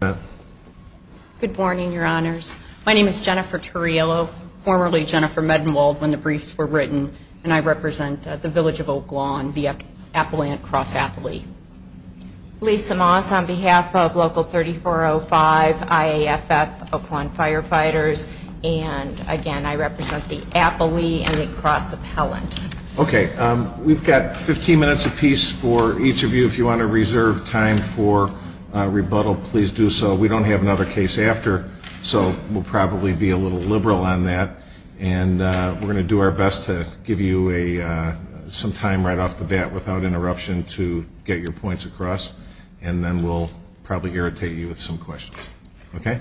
Good morning, your honors. My name is Jennifer Turrillo, formerly Jennifer Medmold when the briefs were written. And I represent the Village of Oak Lawn, the Appalachian Cross Appalachian. Lisa Moss on behalf of Local 3405, IAFF, Oak Lawn Firefighters. And again, I represent the Appalachian Cross Appalachian. Okay, we've got 15 minutes apiece for each of you. If you want to reserve time for rebuttal, please do so. We don't have another case after, so we'll probably be a little liberal on that. And we're going to do our best to give you some time right off the bat without interruption to get your points across. And then we'll probably irritate you with some questions. Okay?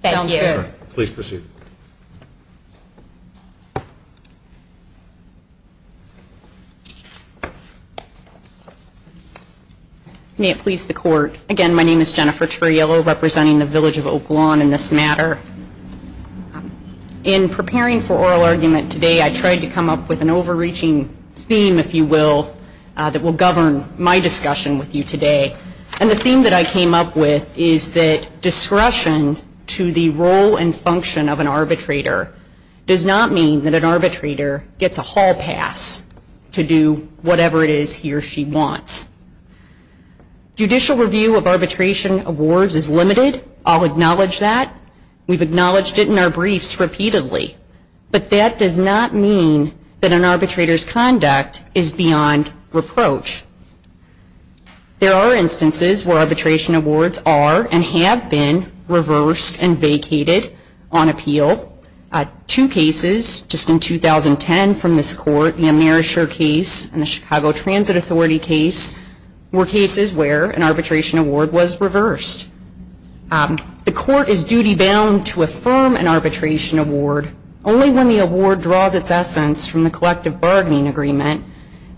Thank you. Please proceed. May it please the Court. Again, my name is Jennifer Turrillo, representing the Village of Oak Lawn in this matter. In preparing for oral argument today, I tried to come up with an overreaching theme, if you will, that will govern my discussion with you today. And the theme that I came up with is that discretion to the role and function of an arbitrator does not mean that an arbitrator gets a hall pass to do whatever it is he or she wants. Judicial review of arbitration awards is limited. I'll acknowledge that. We've acknowledged it in our briefs repeatedly. But that does not mean that an arbitrator's conduct is beyond reproach. There are instances where arbitration awards are and have been reversed and vacated on appeal. Two cases just in 2010 from this Court, the AmeriShare case and the Chicago Transit Authority case, were cases where an arbitration award was reversed. The Court is duty-bound to affirm an arbitration award only when the award draws its essence from the collective bargaining agreement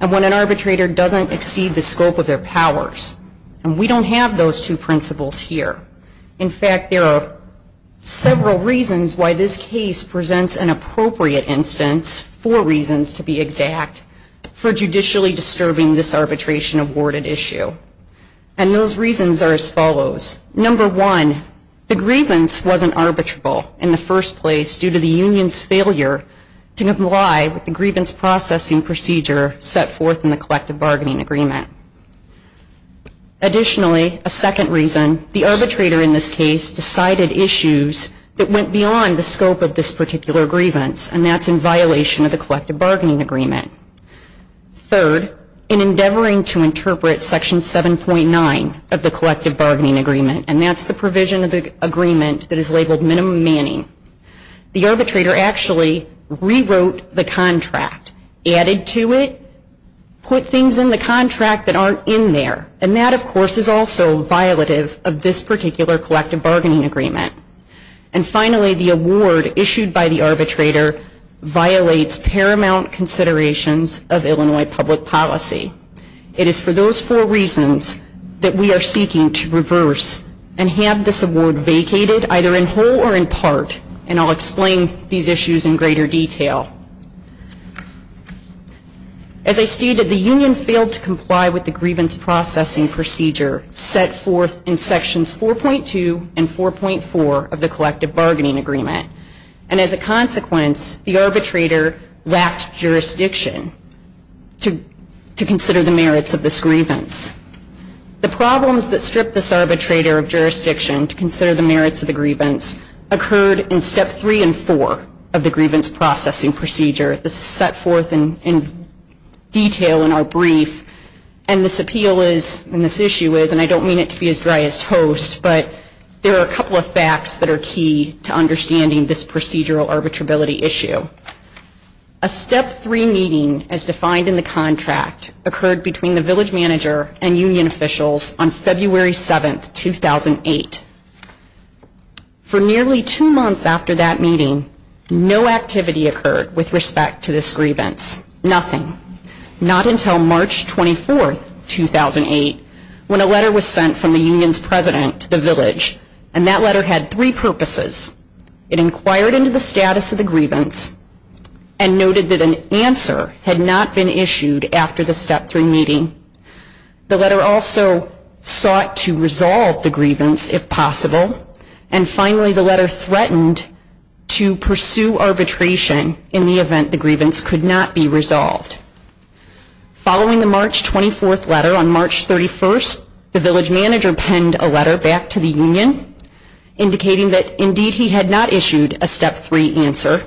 and when an arbitrator doesn't exceed the scope of their powers. And we don't have those two principles here. In fact, there are several reasons why this case presents an appropriate instance, four reasons to be exact, for judicially disturbing this arbitration-awarded issue. And those reasons are as follows. Number one, the grievance wasn't arbitrable in the first place due to the union's failure to comply with the grievance processing procedure set forth in the collective bargaining agreement. Additionally, a second reason, the arbitrator in this case decided issues that went beyond the scope of this particular grievance, and that's in violation of the collective bargaining agreement. Third, in endeavoring to interpret Section 7.9 of the collective bargaining agreement, and that's the provision of the agreement that is labeled minimum manning, the arbitrator actually rewrote the contract, added to it, put things in the contract that aren't in there. And that, of course, is also violative of this particular collective bargaining agreement. And finally, the award issued by the arbitrator violates paramount considerations of Illinois public policy. It is for those four reasons that we are seeking to reverse and have this award vacated either in whole or in part, and I'll explain these issues in greater detail. As I stated, the union failed to comply with the grievance processing procedure set forth in Sections 4.2 and 4.4 of the collective bargaining agreement. And as a consequence, the arbitrator lacked jurisdiction to consider the merits of this grievance. The problems that stripped this arbitrator of jurisdiction to consider the merits of the grievance occurred in Step 3 and 4 of the grievance processing procedure. This is set forth in detail in our brief. And this appeal is, and this issue is, and I don't mean it to be as dry as toast, but there are a couple of facts that are key to understanding this procedural arbitrability issue. A Step 3 meeting, as defined in the contract, occurred between the village manager and union officials on February 7, 2008. For nearly two months after that meeting, no activity occurred with respect to this grievance. Nothing. Not until March 24, 2008, when a letter was sent from the union's president to the village, and that letter had three purposes. It inquired into the status of the grievance and noted that an answer had not been issued after the Step 3 meeting. The letter also sought to resolve the grievance, if possible. And finally, the letter threatened to pursue arbitration in the event the grievance could not be resolved. Following the March 24 letter, on March 31, the village manager penned a letter back to the union indicating that, indeed, he had not issued a Step 3 answer.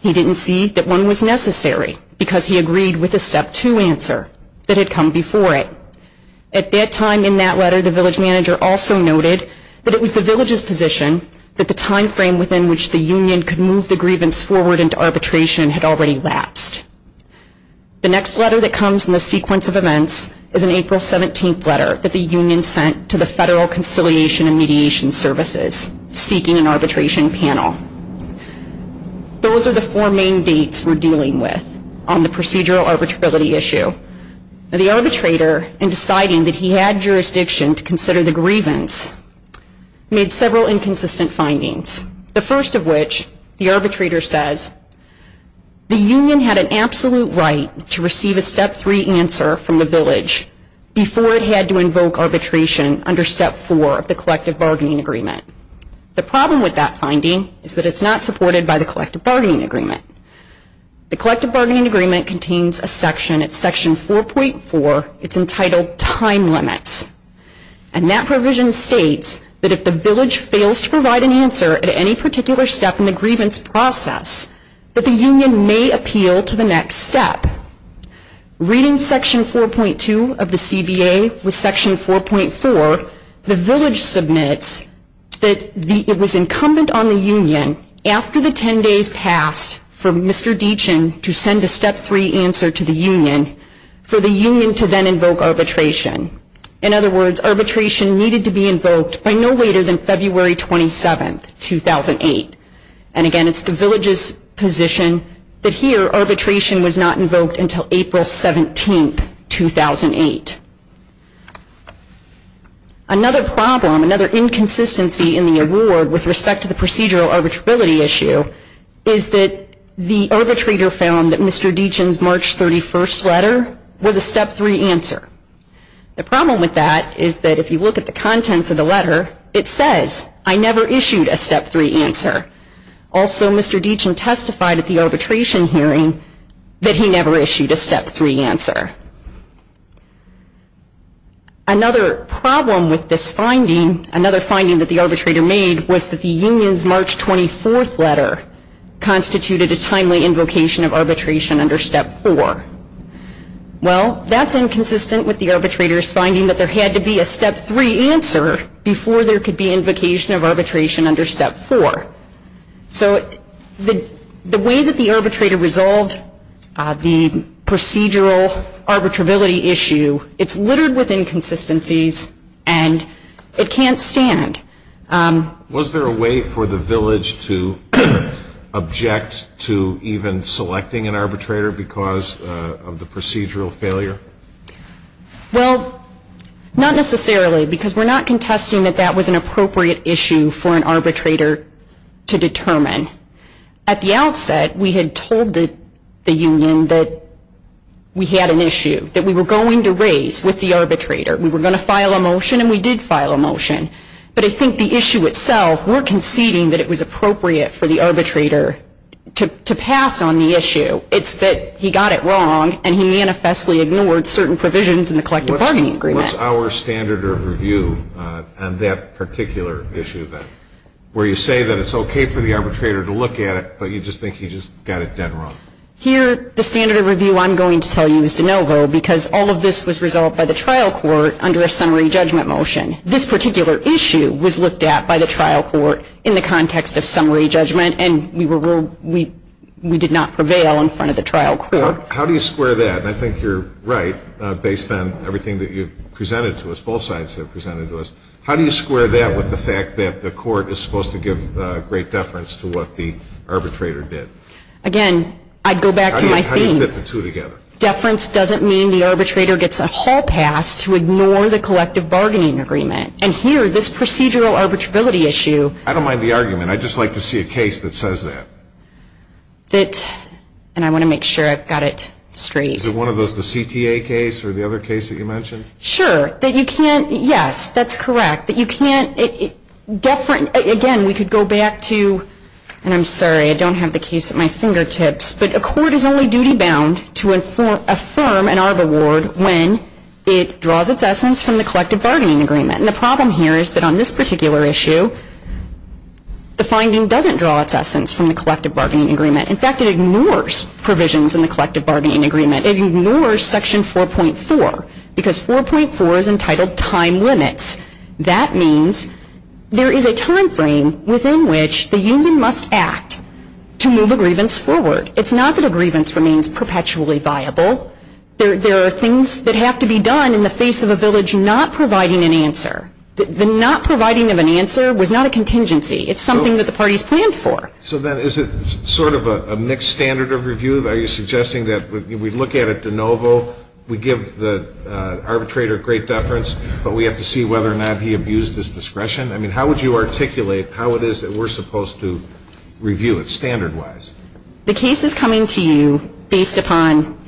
He didn't see that one was necessary because he agreed with the Step 2 answer that had come before it. At that time in that letter, the village manager also noted that it was the village's position that the timeframe within which the union could move the grievance forward into arbitration had already lapsed. The next letter that comes in the sequence of events is an April 17 letter that the union sent to the Federal Conciliation and Mediation Services, seeking an arbitration panel. Those are the four main dates we're dealing with on the procedural arbitrability issue. The arbitrator, in deciding that he had jurisdiction to consider the grievance, made several inconsistent findings. The first of which, the arbitrator says, the union had an absolute right to receive a Step 3 answer from the village before it had to invoke arbitration under Step 4 of the collective bargaining agreement. The problem with that finding is that it's not supported by the collective bargaining agreement. The collective bargaining agreement contains a section, it's Section 4.4, it's entitled Time Limits. And that provision states that if the village fails to provide an answer at any particular step in the grievance process, that the union may appeal to the next step. Reading Section 4.2 of the CBA with Section 4.4, the village submits that it was incumbent on the union, after the 10 days passed, for Mr. Deachin to send a Step 3 answer to the union, for the union to then invoke arbitration. In other words, arbitration needed to be invoked by no later than February 27, 2008. And again, it's the village's position that here, arbitration was not invoked until April 17, 2008. Another problem, another inconsistency in the award with respect to the procedural arbitrability issue, is that the arbitrator found that Mr. Deachin's March 31st letter was a Step 3 answer. The problem with that is that if you look at the contents of the letter, it says, I never issued a Step 3 answer. Also, Mr. Deachin testified at the arbitration hearing that he never issued a Step 3 answer. Another problem with this finding, another finding that the arbitrator made, was that the union's March 24th letter constituted a timely invocation of arbitration under Step 4. Well, that's inconsistent with the arbitrator's finding that there had to be a Step 3 answer, before there could be invocation of arbitration under Step 4. So, the way that the arbitrator resolved the procedural arbitrability issue, it's littered with inconsistencies and it can't stand. Was there a way for the village to object to even selecting an arbitrator because of the procedural failure? Well, not necessarily, because we're not contesting that that was an appropriate issue for an arbitrator to determine. At the outset, we had told the union that we had an issue that we were going to raise with the arbitrator. We were going to file a motion and we did file a motion. But I think the issue itself, we're conceding that it was appropriate for the arbitrator to pass on the issue. It's that he got it wrong and he manifestly ignored certain provisions in the collective bargaining agreement. What's our standard of review on that particular issue then? Where you say that it's okay for the arbitrator to look at it, but you just think he just got it done wrong. Here, the standard of review I'm going to tell you is de novo, because all of this was resolved by the trial court under a summary judgment motion. This particular issue was looked at by the trial court in the context of summary judgment, and we did not prevail in front of the trial court. How do you square that? I think you're right, based on everything that you've presented to us, both sides have presented to us. How do you square that with the fact that the court is supposed to give great deference to what the arbitrator did? Again, I'd go back to my theme. How do you put the two together? Deference doesn't mean the arbitrator gets a hall pass to ignore the collective bargaining agreement. And here, this procedural arbitrability issue. I don't mind the argument. I'd just like to see a case that says that. And I want to make sure I've got it straight. Is it one of those, the CTA case or the other case that you mentioned? Sure. Yes, that's correct. Again, we could go back to, and I'm sorry, I don't have the case at my fingertips, but a court is only duty-bound to affirm an ARB award when it draws its essence from the collective bargaining agreement. And the problem here is that on this particular issue, the finding doesn't draw its essence from the collective bargaining agreement. In fact, it ignores provisions in the collective bargaining agreement. It ignores Section 4.4 because 4.4 is entitled time limits. That means there is a time frame within which the union must act to move a grievance forward. It's not that a grievance remains perpetually viable. There are things that have to be done in the face of a village not providing an answer. The not providing of an answer was not a contingency. It's something that the parties planned for. So then is it sort of a mixed standard of review? Are you suggesting that we look at it de novo, we give the arbitrator great deference, but we have to see whether or not he abused his discretion? I mean, how would you articulate how it is that we're supposed to review it standard-wise? The case is coming to you based upon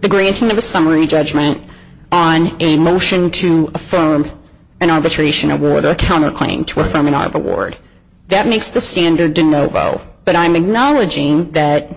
the granting of a summary judgment on a motion to affirm an arbitration award or a counterclaim to affirm an ARB award. That makes the standard de novo. But I'm acknowledging that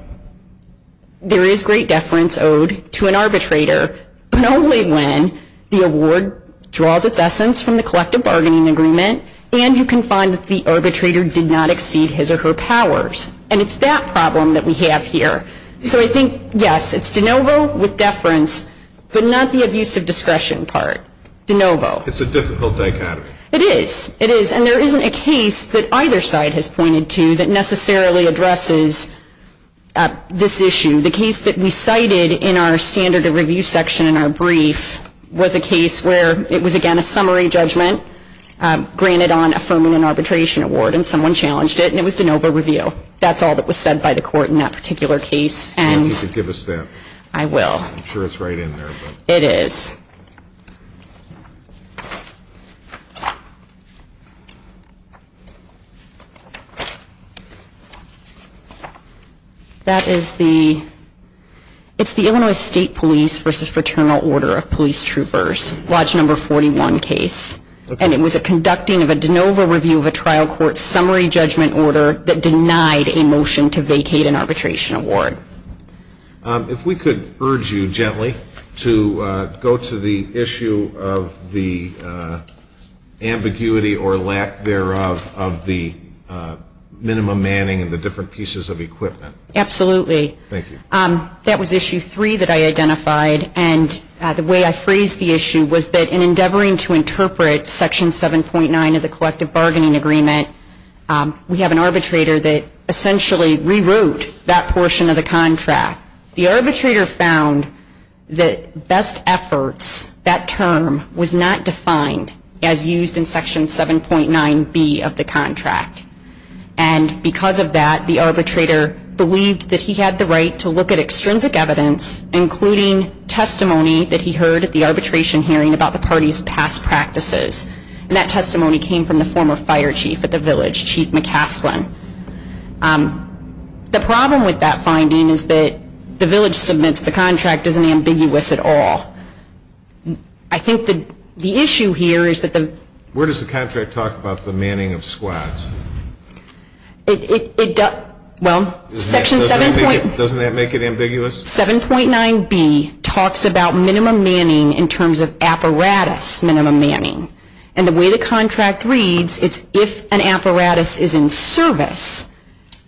there is great deference owed to an arbitrator, but only when the award draws its essence from the collective bargaining agreement and you can find that the arbitrator did not exceed his or her powers. And it's that problem that we have here. So I think, yes, it's de novo with deference, but not the abuse of discretion part. De novo. It's a difficult dichotomy. It is. It is. And there isn't a case that either side has pointed to that necessarily addresses this issue. The case that we cited in our standard of review section, our brief, was a case where it was, again, a summary judgment granted on affirming an arbitration award, and someone challenged it, and it was de novo review. That's all that was said by the court in that particular case. If you could give us that. I will. I'm sure it's right in there. It is. That is the Illinois State Police v. Fraternal Order of Police Troopers, Lodge No. 41 case. And it was a conducting of a de novo review of a trial court summary judgment order that denied a motion to vacate an arbitration award. If we could urge you gently to go to the issue of the ambiguity or lack thereof of the minimum manning and the different pieces of equipment. Absolutely. Thank you. That was issue three that I identified. And the way I phrased the issue was that in endeavoring to interpret section 7.9 of the collective bargaining agreement, we have an arbitrator that essentially rewrote that portion of the contract. The arbitrator found that best efforts, that term, was not defined as used in section 7.9B of the contract. And because of that, the arbitrator believed that he had the right to look at extrinsic evidence, including testimony that he heard at the arbitration hearing about the party's past practices. And that testimony came from the former fire chief at the village, Chief McCafflin. The problem with that finding is that the village submits the contract isn't ambiguous at all. I think the issue here is that the ---- The contract talks about the manning of squads. Well, section 7.9B talks about minimum manning in terms of apparatus minimum manning. And the way the contract reads is if an apparatus is in service,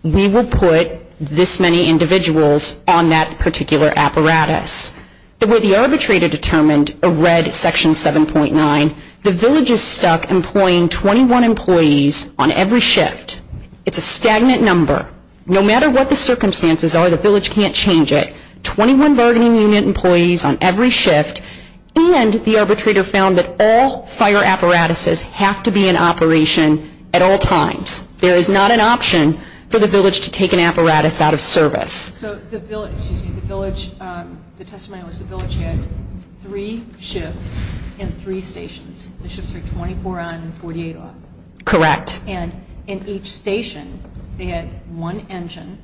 we will put this many individuals on that particular apparatus. The way the arbitrator determined or read section 7.9, the village is stuck employing 21 employees on every shift. It's a stagnant number. No matter what the circumstances are, the village can't change it. Twenty-one bargaining unit employees on every shift. And the arbitrator found that all fire apparatuses have to be in operation at all times. There is not an option for the village to take an apparatus out of service. So the village, the testimony was the village had three shifts and three stations. The shifts were 24 on and 48 off. Correct. And in each station, they had one engine,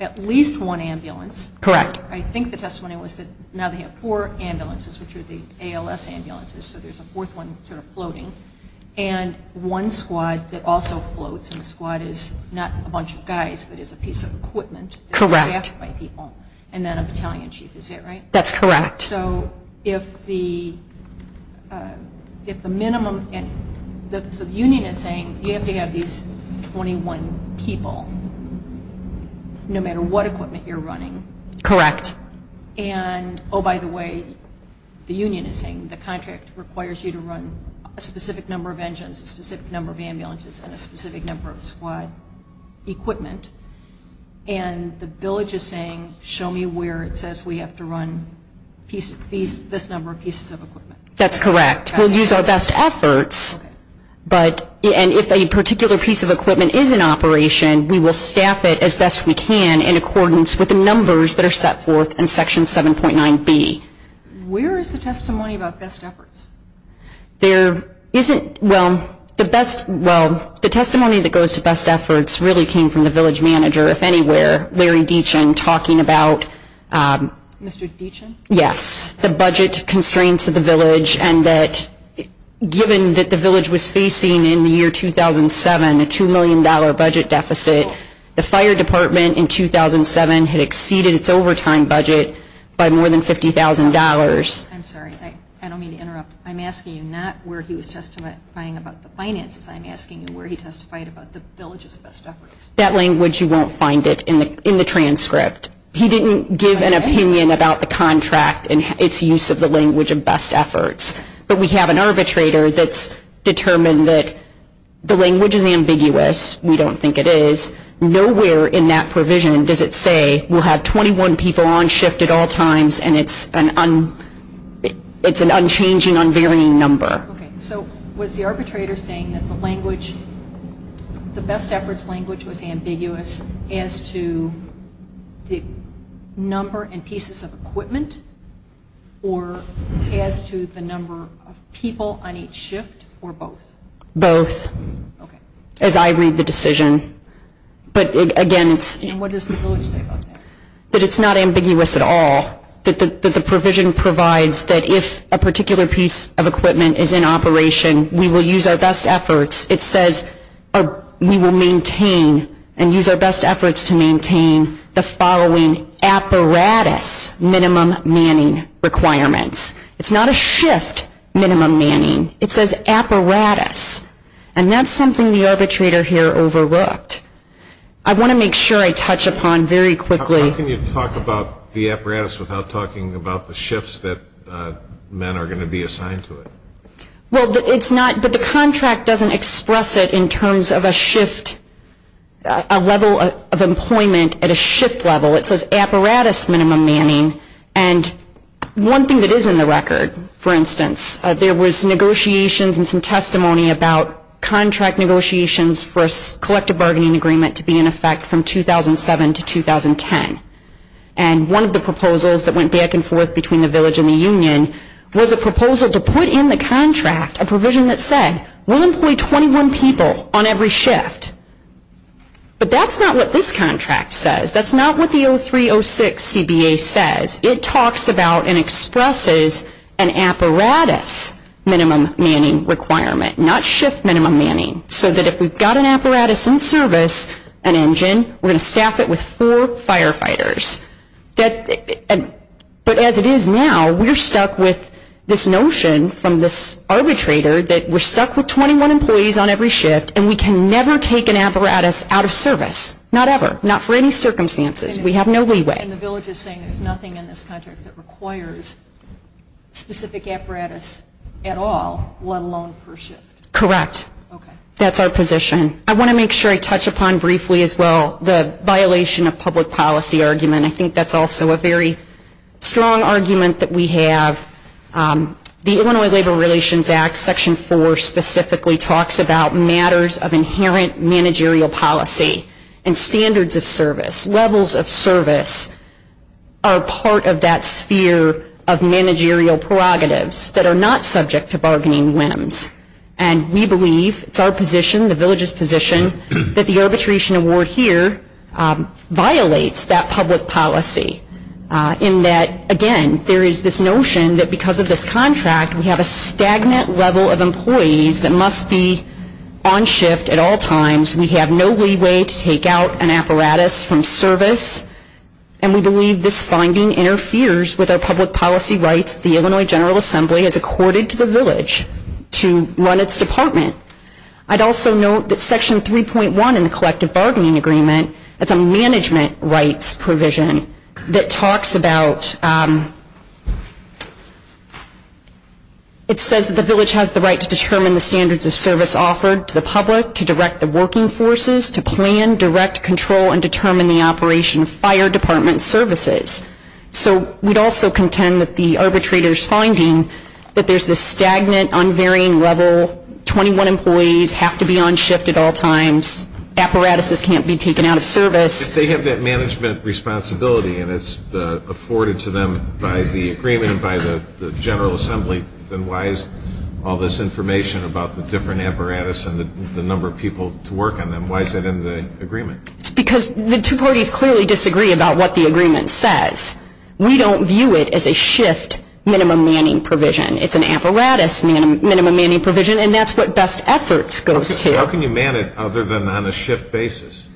at least one ambulance. Correct. I think the testimony was that now they have four ambulances, which are the ALS ambulances. So there's a fourth one sort of floating. And one squad that also floats in the squad is not a bunch of guys, but is a piece of equipment. Correct. And then a battalion chief is there, right? That's correct. So if the minimum and the union is saying you have to have these 21 people no matter what equipment you're running. Correct. And, oh, by the way, the union is saying the contract requires you to run a specific number of engines, a specific number of ambulances, and a specific number of squad equipment. And the village is saying show me where it says we have to run this number of pieces of equipment. That's correct. We'll use our best efforts. And if a particular piece of equipment is in operation, we will staff it as best we can in accordance with the numbers that are set forth in Section 7.9B. Where is the testimony about best efforts? There isn't, well, the best, well, the testimony that goes to best efforts really came from the village manager, if anywhere, Larry Deachin, talking about the budget constraints of the village and that given that the village was facing in the year 2007 a $2 million budget deficit, the fire department in 2007 had exceeded its overtime budget by more than $50,000. I'm sorry. I don't mean to interrupt. I'm asking you not where he was testifying about the finances. I'm asking you where he testified about the village's best efforts. That language, you won't find it in the transcript. He didn't give an opinion about the contract and its use of the language of best efforts. But we have an arbitrator that's determined that the language is ambiguous. We don't think it is. Nowhere in that provision does it say we'll have 21 people on shift at all times and it's an unchanging, unvarying number. Okay. So was the arbitrator saying that the language, the best efforts language was ambiguous as to the number and pieces of equipment or as to the number of people on each shift or both? Both. Okay. As I read the decision. But, again, it's not ambiguous at all. The provision provides that if a particular piece of equipment is in operation, we will use our best efforts. It says we will maintain and use our best efforts to maintain the following apparatus minimum manning requirements. It's not a shift minimum manning. It says apparatus. And that's something the arbitrator here overlooked. I want to make sure I touch upon very quickly. How can you talk about the apparatus without talking about the shifts that men are going to be assigned to it? Well, it's not, but the contract doesn't express it in terms of a shift, a level of employment at a shift level. It says apparatus minimum manning. And one thing that is in the record, for instance, there was negotiations and some testimony about contract negotiations for a collective bargaining agreement to be in effect from 2007 to 2010. And one of the proposals that went back and forth between the village and the union was a proposal to put in the contract a provision that said we'll employ 21 people on every shift. But that's not what this contract says. That's not what the 03-06 CBA says. It talks about and expresses an apparatus minimum manning requirement, not shift minimum manning, so that if we've got an apparatus in service, an engine, we're going to staff it with four firefighters. But as it is now, we're stuck with this notion from this arbitrator that we're stuck with 21 employees on every shift and we can never take an apparatus out of service, not ever, not for any circumstances. We have no leeway. And the village is saying there's nothing in this contract that requires specific apparatus at all, let alone per shift. Correct. That's our position. I want to make sure I touch upon briefly as well the violation of public policy argument. I think that's also a very strong argument that we have. The Illinois Labor Relations Act Section 4 specifically talks about matters of inherent managerial policy and standards of service, levels of service are part of that sphere of managerial prerogatives that are not subject to bargaining whims. And we believe, it's our position, the village's position, that the arbitration award here violates that public policy. In that, again, there is this notion that because of this contract, we have a stagnant level of employees that must be on shift at all times. We have no leeway to take out an apparatus from service. And we believe this finding interferes with our public policy rights. The Illinois General Assembly is accorded to the village to run its department. I'd also note that Section 3.1 in the Collective Bargaining Agreement is a management rights provision that talks about, it says that the village has the right to determine the standards of service offered to the public, to direct the working forces, to plan, direct, control, and determine the operation of fire department services. So we'd also contend that the arbitrator's finding that there's this stagnant, unvarying level, 21 employees have to be on shift at all times, apparatuses can't be taken out of service. If they have that management responsibility and it's afforded to them by the agreement, by the General Assembly, then why is all this information about the different apparatus and the number of people to work on them, why is that in the agreement? Because the two parties clearly disagree about what the agreement says. We don't view it as a shift minimum manning provision. It's an apparatus minimum manning provision, and that's what best efforts go to. How can you man it other than on a shift basis?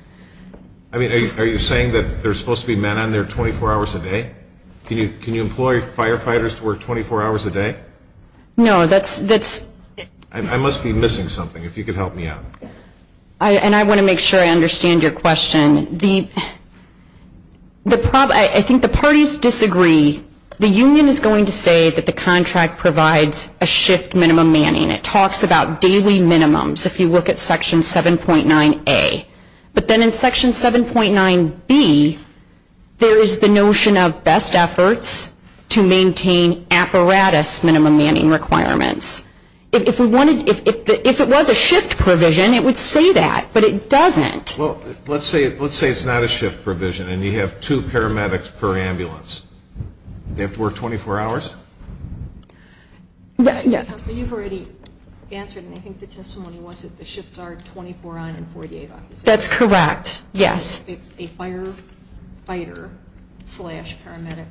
Are you saying that there's supposed to be men on there 24 hours a day? Can you employ firefighters to work 24 hours a day? No, that's... I must be missing something, if you could help me out. And I want to make sure I understand your question. I think the parties disagree. The union is going to say that the contract provides a shift minimum manning. It talks about daily minimums, if you look at Section 7.9A. But then in Section 7.9B, there is the notion of best efforts to maintain apparatus minimum manning requirements. If it was a shift provision, it would say that, but it doesn't. Well, let's say it's not a shift provision and you have two paramedics per ambulance. They have to work 24 hours? Yes. You've already answered, and I think the testimony was that the shifts are 24 on and 48 off. That's correct, yes. If it's a firefighter slash paramedic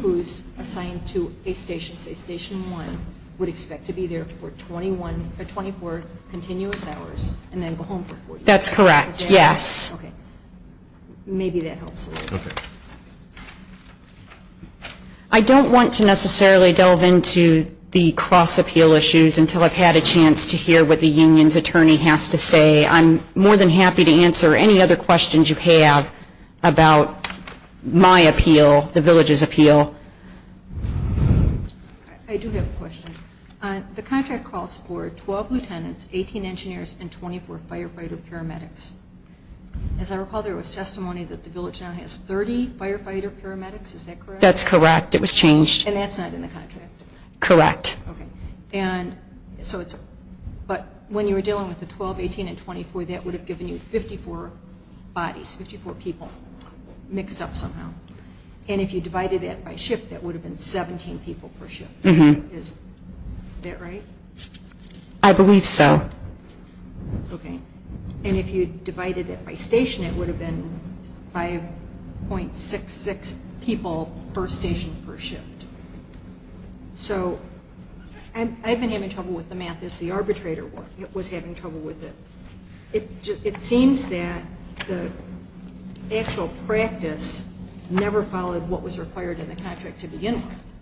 who's assigned to a station, say Station 1, would expect to be there for 21 or 24 continuous hours and then go home for 48 hours? That's correct, yes. Okay. Maybe that helps a little bit. I don't want to necessarily delve into the cross-appeal issues until I've had a chance to hear what the union's attorney has to say. I'm more than happy to answer any other questions you have about my appeal, the village's appeal. I do have a question. The contract calls for 12 lieutenants, 18 engineers, and 24 firefighter paramedics. As I recall, there was testimony that the village now has 30 firefighter paramedics. Is that correct? That's correct. It was changed. And that's not in the contract? Correct. But when you were dealing with the 12, 18, and 24, that would have given you 54 bodies, 54 people mixed up somehow. And if you divided that by shift, that would have been 17 people per shift. Is that right? I believe so. Okay. And if you divided it by station, it would have been 5.66 people per station per shift. So I've been having trouble with the math as the arbitrator was having trouble with it. It seems that the actual practice never followed what was required in the contract to begin with,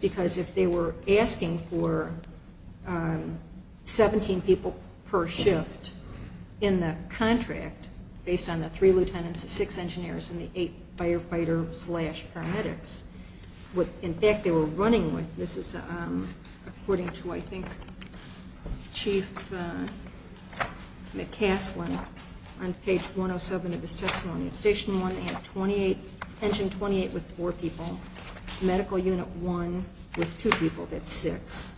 because if they were asking for 17 people per shift in the contract, based on the three lieutenants, the six engineers, and the eight firefighter slash paramedics, what in fact they were running with, this is according to, I think, Chief McCaslin on page 107 of the testimony. Station 1 had 28, engine 28, with four people. Medical unit 1 with two people, that's six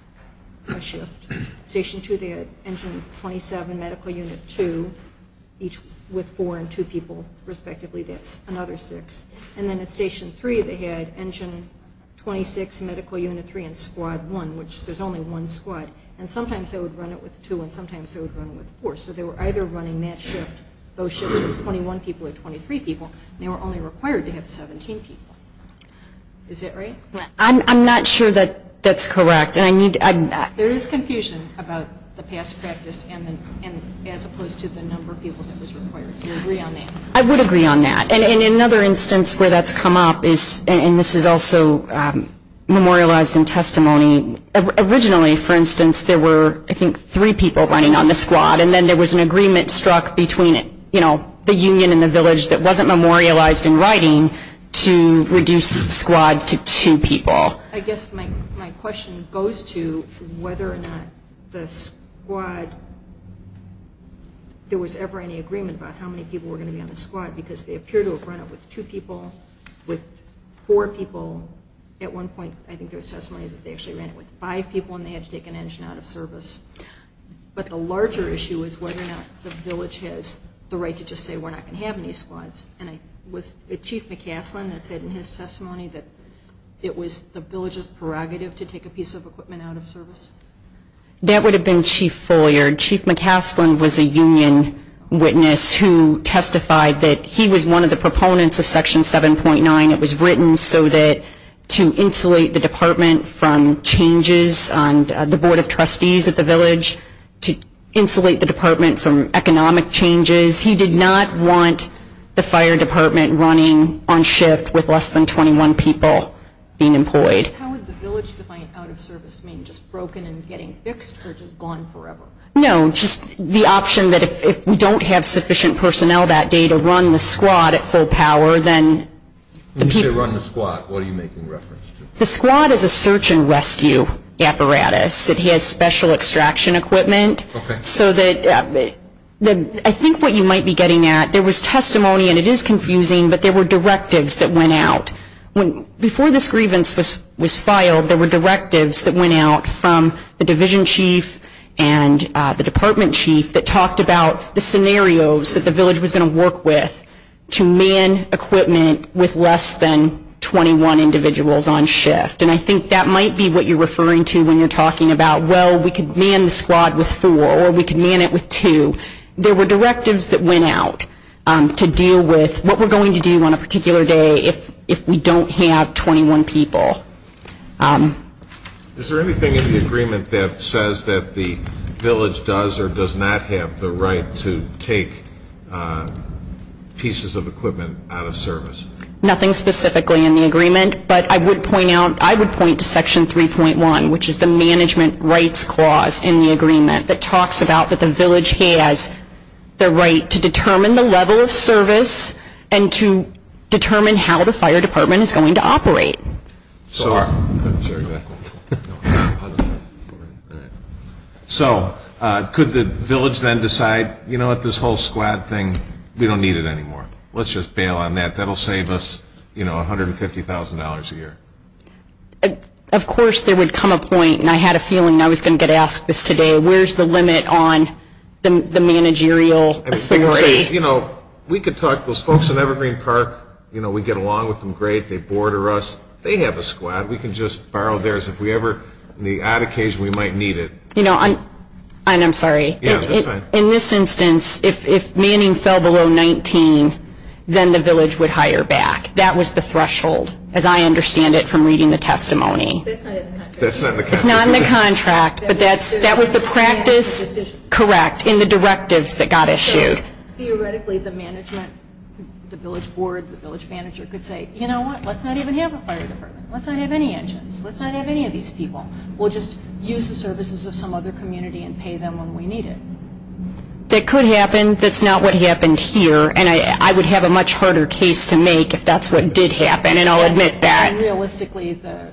per shift. Station 2 there, engine 27, medical unit 2, with four and two people respectively, that's another six. And then at station 3 they had engine 26, medical unit 3, and squad 1, which there's only one squad. And sometimes they would run it with two and sometimes they would run it with four. So they were either running that shift, both shifts, with 21 people or 23 people, and they were only required to have 17 people. Is that right? I'm not sure that that's correct. There is confusion about the past practice as opposed to the number of people that was required. Do you agree on that? I would agree on that. And another instance where that's come up is, and this is also memorialized in testimony, originally, for instance, there were, I think, three people running on the squad, and then there was an agreement struck between the union and the village that wasn't memorialized in writing to reduce the squad to two people. I guess my question goes to whether or not the squad, there was ever any agreement about how many people were going to be on the squad because they appear to have run it with two people, with four people. At one point, I think there was testimony that they actually ran it with five people and they had to take an engine out of service. But the larger issue is whether or not the village has the right to just say we're not going to have any squads. Was it Chief McCafflin that said in his testimony that it was the village's prerogative to take a piece of equipment out of service? That would have been Chief Foyard. Chief McCafflin was a union witness who testified that he was one of the proponents of Section 7.9. It was written so that to insulate the department from changes on the Board of Trustees at the village, to insulate the department from economic changes. The issue is he did not want the fire department running on shift with less than 21 people being employed. How would the village define out of service? Do you mean just broken and getting fixed or just gone forever? No, just the option that if we don't have sufficient personnel that day to run the squad at full power, then the people. When you say run the squad, what are you making reference to? The squad is a search and rescue apparatus. It has special extraction equipment. I think what you might be getting at, there was testimony, and it is confusing, but there were directives that went out. Before this grievance was filed, there were directives that went out from the division chief and the department chief that talked about the scenarios that the village was going to work with to man equipment with less than 21 individuals on shift. And I think that might be what you're referring to when you're talking about, well, we could man the squad with four or we could man it with two. There were directives that went out to deal with what we're going to do on a particular day if we don't have 21 people. Is there anything in the agreement that says that the village does or does not have the right to take pieces of equipment out of service? Nothing specifically in the agreement, but I would point out, I would point to section 3.1, which is the management rights clause in the agreement that talks about that the village has the right to determine the level of service and to determine how the fire department is going to operate. So could the village then decide, you know what, this whole squad thing, we don't need it anymore. Let's just bail on that. That will save us, you know, $150,000 a year. Of course there would come a point, and I had a feeling I was going to get asked this today, where's the limit on the managerial authority? You know, we could talk to those folks at Evergreen Park. You know, we get along with them great. They border us. They have a squad. We can just borrow theirs if we ever, on the odd occasion, we might need it. You know, and I'm sorry. In this instance, if Manning fell below 19, then the village would hire back. That was the threshold, as I understand it from reading the testimony. It's not in the contract, but that was the practice, correct, in the directives that got issued. Theoretically, the management, the village board, the village manager could say, you know what, let's not even have a fire department. Let's not have any engines. Let's not have any of these people. We'll just use the services of some other community and pay them when we need it. That could happen. That's not what happened here, and I would have a much harder case to make if that's what did happen, and I'll admit that. Realistically, the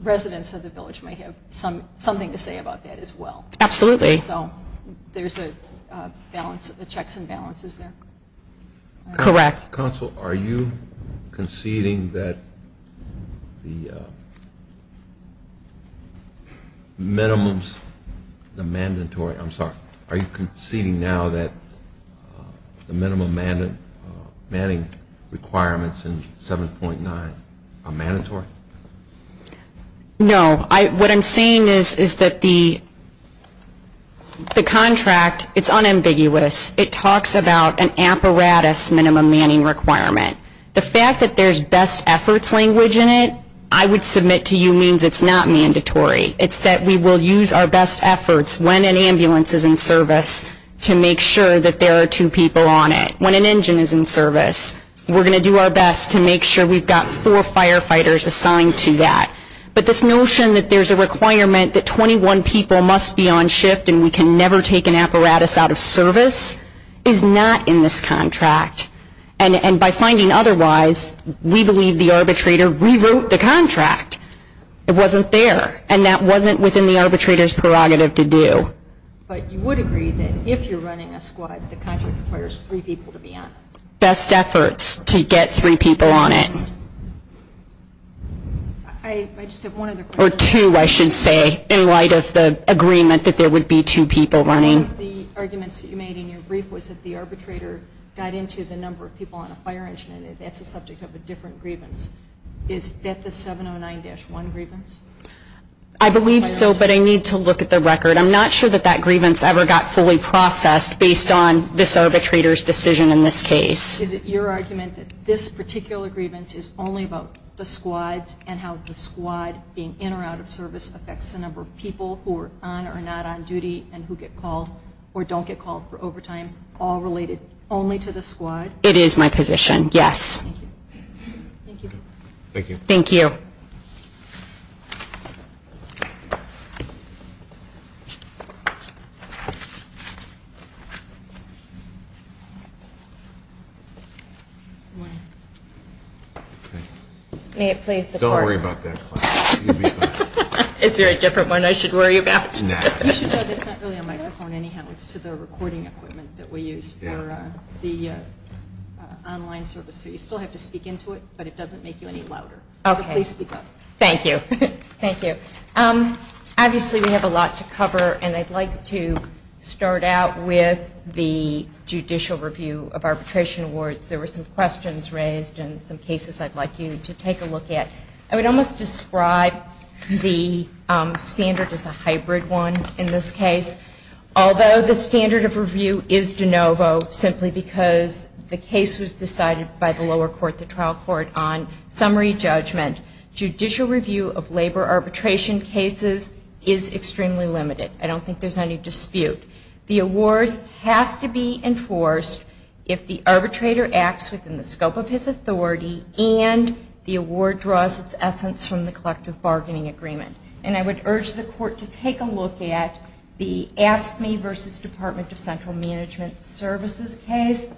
residents of the village may have something to say about that as well. Absolutely. So there's a balance, a checks and balances there. Correct. Counsel, are you conceding that the minimums are mandatory? I'm sorry. Are you conceding now that the minimum Manning requirements in 7.9 are mandatory? No. What I'm saying is that the contract, it's unambiguous. It talks about an apparatus minimum Manning requirement. The fact that there's best efforts language in it, I would submit to you means it's not mandatory. It's that we will use our best efforts when an ambulance is in service to make sure that there are two people on it. When an engine is in service, we're going to do our best to make sure we've got four firefighters assigned to that. But this notion that there's a requirement that 21 people must be on shift and we can never take an apparatus out of service is not in this contract. And by finding otherwise, we believe the arbitrator rewrote the contract. It wasn't there, and that wasn't within the arbitrator's prerogative to do. But you would agree that if you're running a squad, the contract requires three people to be on it. Best efforts to get three people on it. I just have one other question. Or two, I should say, in light of the agreement that there would be two people running. One of the arguments that you made in your brief was that the arbitrator got into the number of people on a fire engine, and that's a subject of a different grievance. Is that the 709-1 grievance? I believe so, but I need to look at the record. I'm not sure that that grievance ever got fully processed based on this arbitrator's decision in this case. Is it your argument that this particular grievance is only about the squad and how the squad being in or out of service affects the number of people who are on or not on duty and who get called or don't get called for overtime, all related only to the squad? It is my position, yes. Thank you. Thank you. Don't worry about that. Is there a different one I should worry about? No. It's not really a microphone anyhow. It's the recording equipment that we use for the online services. You still have to speak into it, but it doesn't make you any louder. Okay. Please speak up. Thank you. Thank you. Obviously, we have a lot to cover, and I'd like to start out with the judicial review of arbitration warrants. There were some questions raised and some cases I'd like you to take a look at. I would almost describe the standard as a hybrid one in this case, although the standard of review is de novo simply because the case was decided by the lower court, the trial court, on summary judgment. Judicial review of labor arbitration cases is extremely limited. I don't think there's any dispute. The award has to be enforced if the arbitrator acts within the scope of his authority and the award draws its essence from the collective bargaining agreement. I would urge the court to take a look at the Ask Me v. Department of Central Management Services case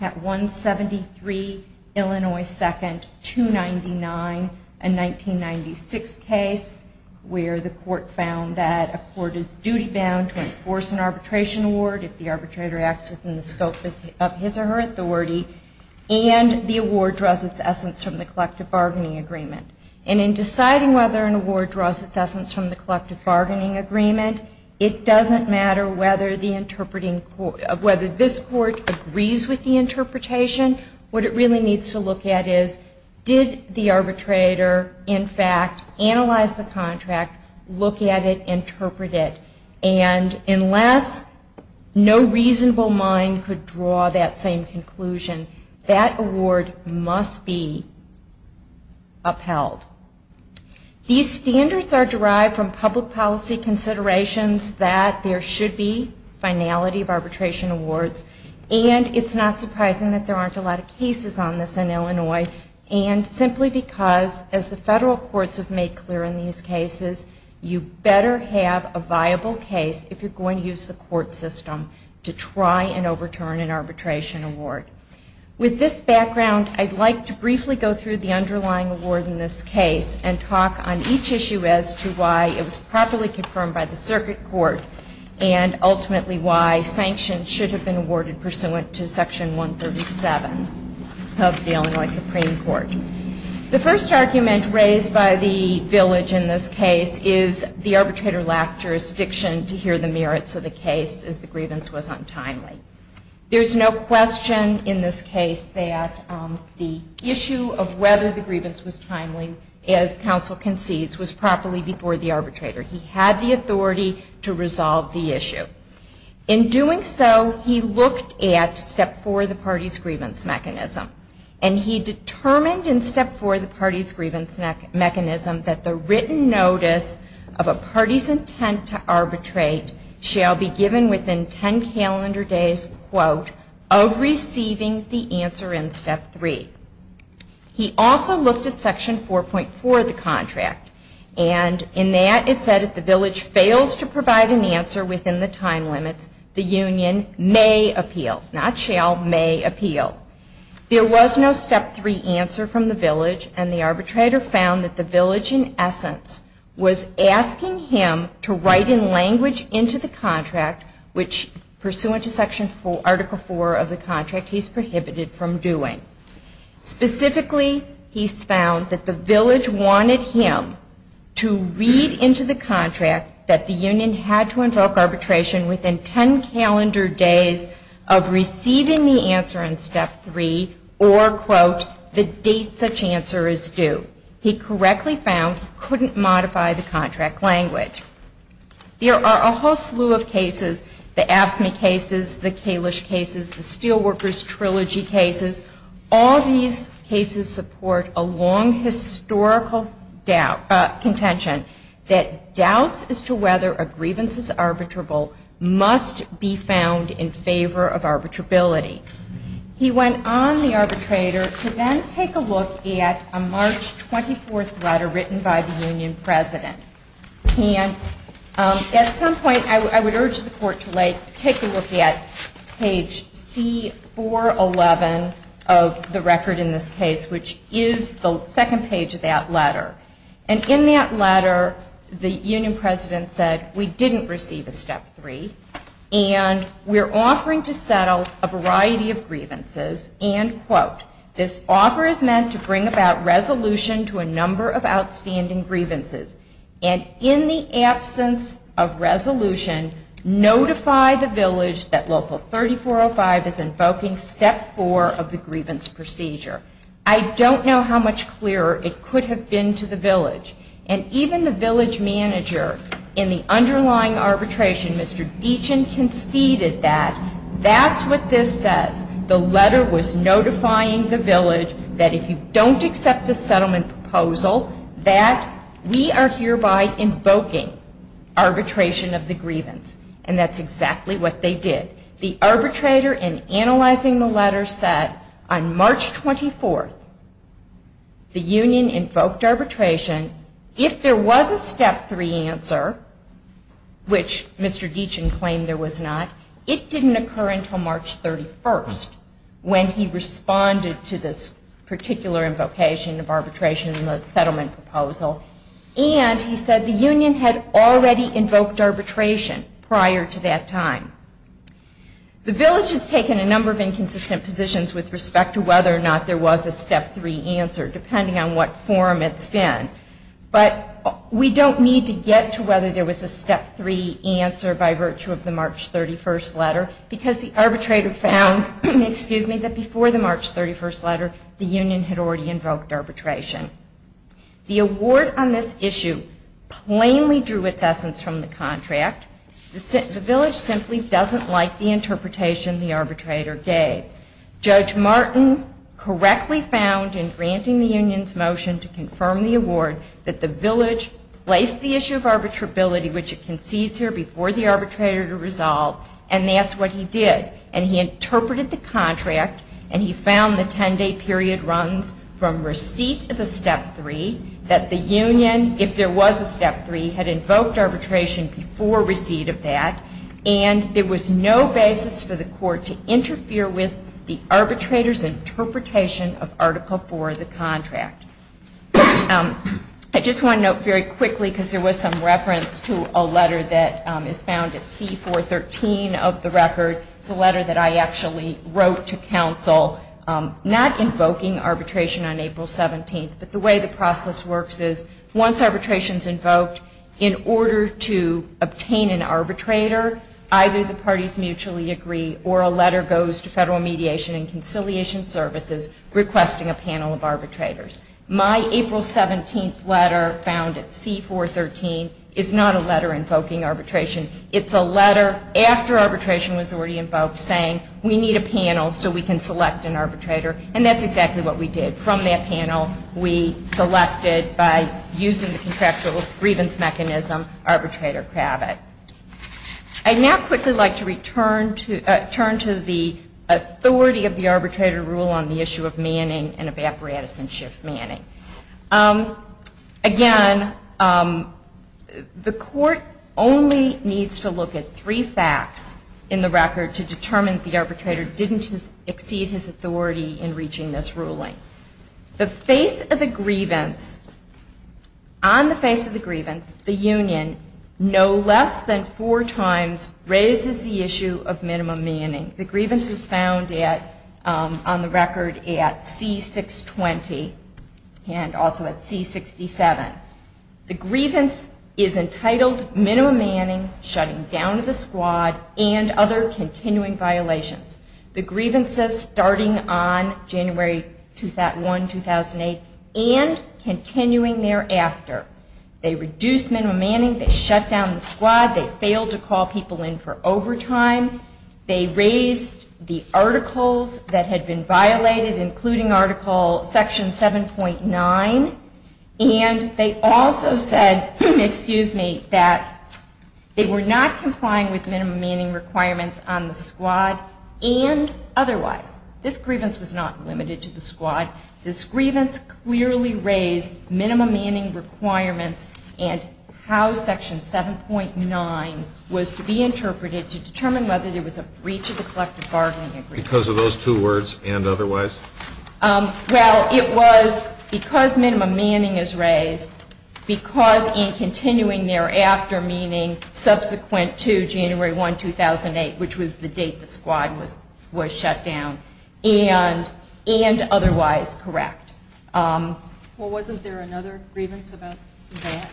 at 173 Illinois 2nd, 299, a 1996 case, where the court found that a court is duty bound to enforce an arbitration award if the arbitrator acts within the scope of his or her authority and the award draws its essence from the collective bargaining agreement. And in deciding whether an award draws its essence from the collective bargaining agreement, it doesn't matter whether this court agrees with the interpretation. What it really needs to look at is did the arbitrator, in fact, analyze the contract, look at it, interpret it, and unless no reasonable mind could draw that same conclusion, that award must be upheld. These standards are derived from public policy considerations that there should be finality of arbitration awards, and it's not surprising that there aren't a lot of cases on this in Illinois, and simply because, as the federal courts have made clear in these cases, you better have a viable case if you're going to use the court system to try and overturn an arbitration award. With this background, I'd like to briefly go through the underlying award in this case and talk on each issue as to why it was properly confirmed by the circuit court and ultimately why sanctions should have been awarded pursuant to Section 137 of the Illinois Supreme Court. The first argument raised by the village in this case is the arbitrator lacked jurisdiction to hear the merits of the case as the grievance was untimely. There's no question in this case that the issue of whether the grievance was timely, as counsel concedes, was properly before the arbitrator. He had the authority to resolve the issue. In doing so, he looked at Step 4 of the party's grievance mechanism, and he determined in Step 4 of the party's grievance mechanism that the written notice of a party's intent to arbitrate shall be given within 10 calendar days, quote, of receiving the answer in Step 3. He also looked at Section 4.4 of the contract, and in that it said if the village fails to provide an answer within the time limit, the union may appeal, not shall, may appeal. There was no Step 3 answer from the village, and the arbitrator found that the village, in essence, was asking him to write in language into the contract, which pursuant to Article 4 of the contract, he's prohibited from doing. Specifically, he found that the village wanted him to read into the contract that the union had to invoke arbitration within 10 calendar days of receiving the answer in Step 3, or, quote, the date such answer is due. He correctly found he couldn't modify the contract language. There are a whole slew of cases, the AFSCME cases, the Kalish cases, the Steelworkers Trilogy cases. All these cases support a long historical contention that doubts as to whether a grievance is arbitrable must be found in favor of arbitrability. He went on, the arbitrator, to then take a look at a March 24th letter written by the union president. And at some point, I would urge the court to take a look at page C411 of the record in this case, which is the second page of that letter. And in that letter, the union president said, we didn't receive a Step 3, and we're offering to settle a variety of grievances, and, quote, this offer is meant to bring about resolution to a number of outstanding grievances. And in the absence of resolution, notify the village that Local 3405 is invoking Step 4 of the grievance procedure. I don't know how much clearer it could have been to the village. And even the village manager in the underlying arbitration, Mr. Deachin, conceded that that's what this says. The letter was notifying the village that if you don't accept the settlement proposal, that we are hereby invoking arbitration of the grievance. And that's exactly what they did. The arbitrator, in analyzing the letter, said, on March 24th, the union invoked arbitration. If there was a Step 3 answer, which Mr. Deachin claimed there was not, it didn't occur until March 31st when he responded to this particular invocation of arbitration in the settlement proposal. And he said the union had already invoked arbitration prior to that time. The village has taken a number of inconsistent positions with respect to whether or not there was a Step 3 answer, depending on what form it's in. But we don't need to get to whether there was a Step 3 answer by virtue of the March 31st letter, because the arbitrator found, excuse me, that before the March 31st letter, the union had already invoked arbitration. The award on this issue plainly drew with essence from the contract. The village simply doesn't like the interpretation the arbitrator gave. Judge Martin correctly found, in granting the union's motion to confirm the award, that the village placed the issue of arbitrability, which it concedes here, before the arbitrator to resolve. And that's what he did. And he interpreted the contract, and he found the 10-day period runs from receipt of a Step 3, that the union, if there was a Step 3, had invoked arbitration before receipt of that, and there was no basis for the court to interfere with the arbitrator's interpretation of Article 4 of the contract. I just want to note very quickly, because there was some reference to a letter that is found at C-413 of the record, the letter that I actually wrote to counsel, not invoking arbitration on April 17th, that the way the process works is, once arbitration is invoked, in order to obtain an arbitrator, either the parties mutually agree, or a letter goes to federal mediation and conciliation services, requesting a panel of arbitrators. My April 17th letter, found at C-413, is not a letter invoking arbitration. It's a letter, after arbitration was already invoked, saying, we need a panel so we can select an arbitrator. And that's exactly what we did. From that panel, we selected, by use of the contractual grievance mechanism, arbitrator Kravitz. I'd now quickly like to return to the authority of the arbitrator rule on the issue of manning and of apparatus in shift manning. Again, the court only needs to look at three facts in the record to determine the arbitrator didn't exceed his authority in reaching this ruling. The face of the grievance, on the face of the grievance, the union, no less than four times, raises the issue of minimum manning. The grievance is found on the record at C-620, and also at C-67. The grievance is entitled minimum manning, shutting down of the squad, and other continuing violations. The grievance is starting on January 1, 2008, and continuing thereafter. They reduced minimum manning, they shut down the squad, they failed to call people in for overtime, they raised the articles that had been violated, including article, section 7.9, and they also said, excuse me, that they were not complying with minimum manning requirements on the squad, and otherwise. This grievance was not limited to the squad. This grievance clearly raised minimum manning requirements, and how section 7.9 was to be interpreted to determine whether there was a breach of the collective bargaining agreement. Because of those two words, and otherwise? Well, it was because minimum manning is raised, because in continuing thereafter, meaning subsequent to January 1, 2008, which was the date the squad was shut down, and otherwise correct. Well, wasn't there another grievance about that?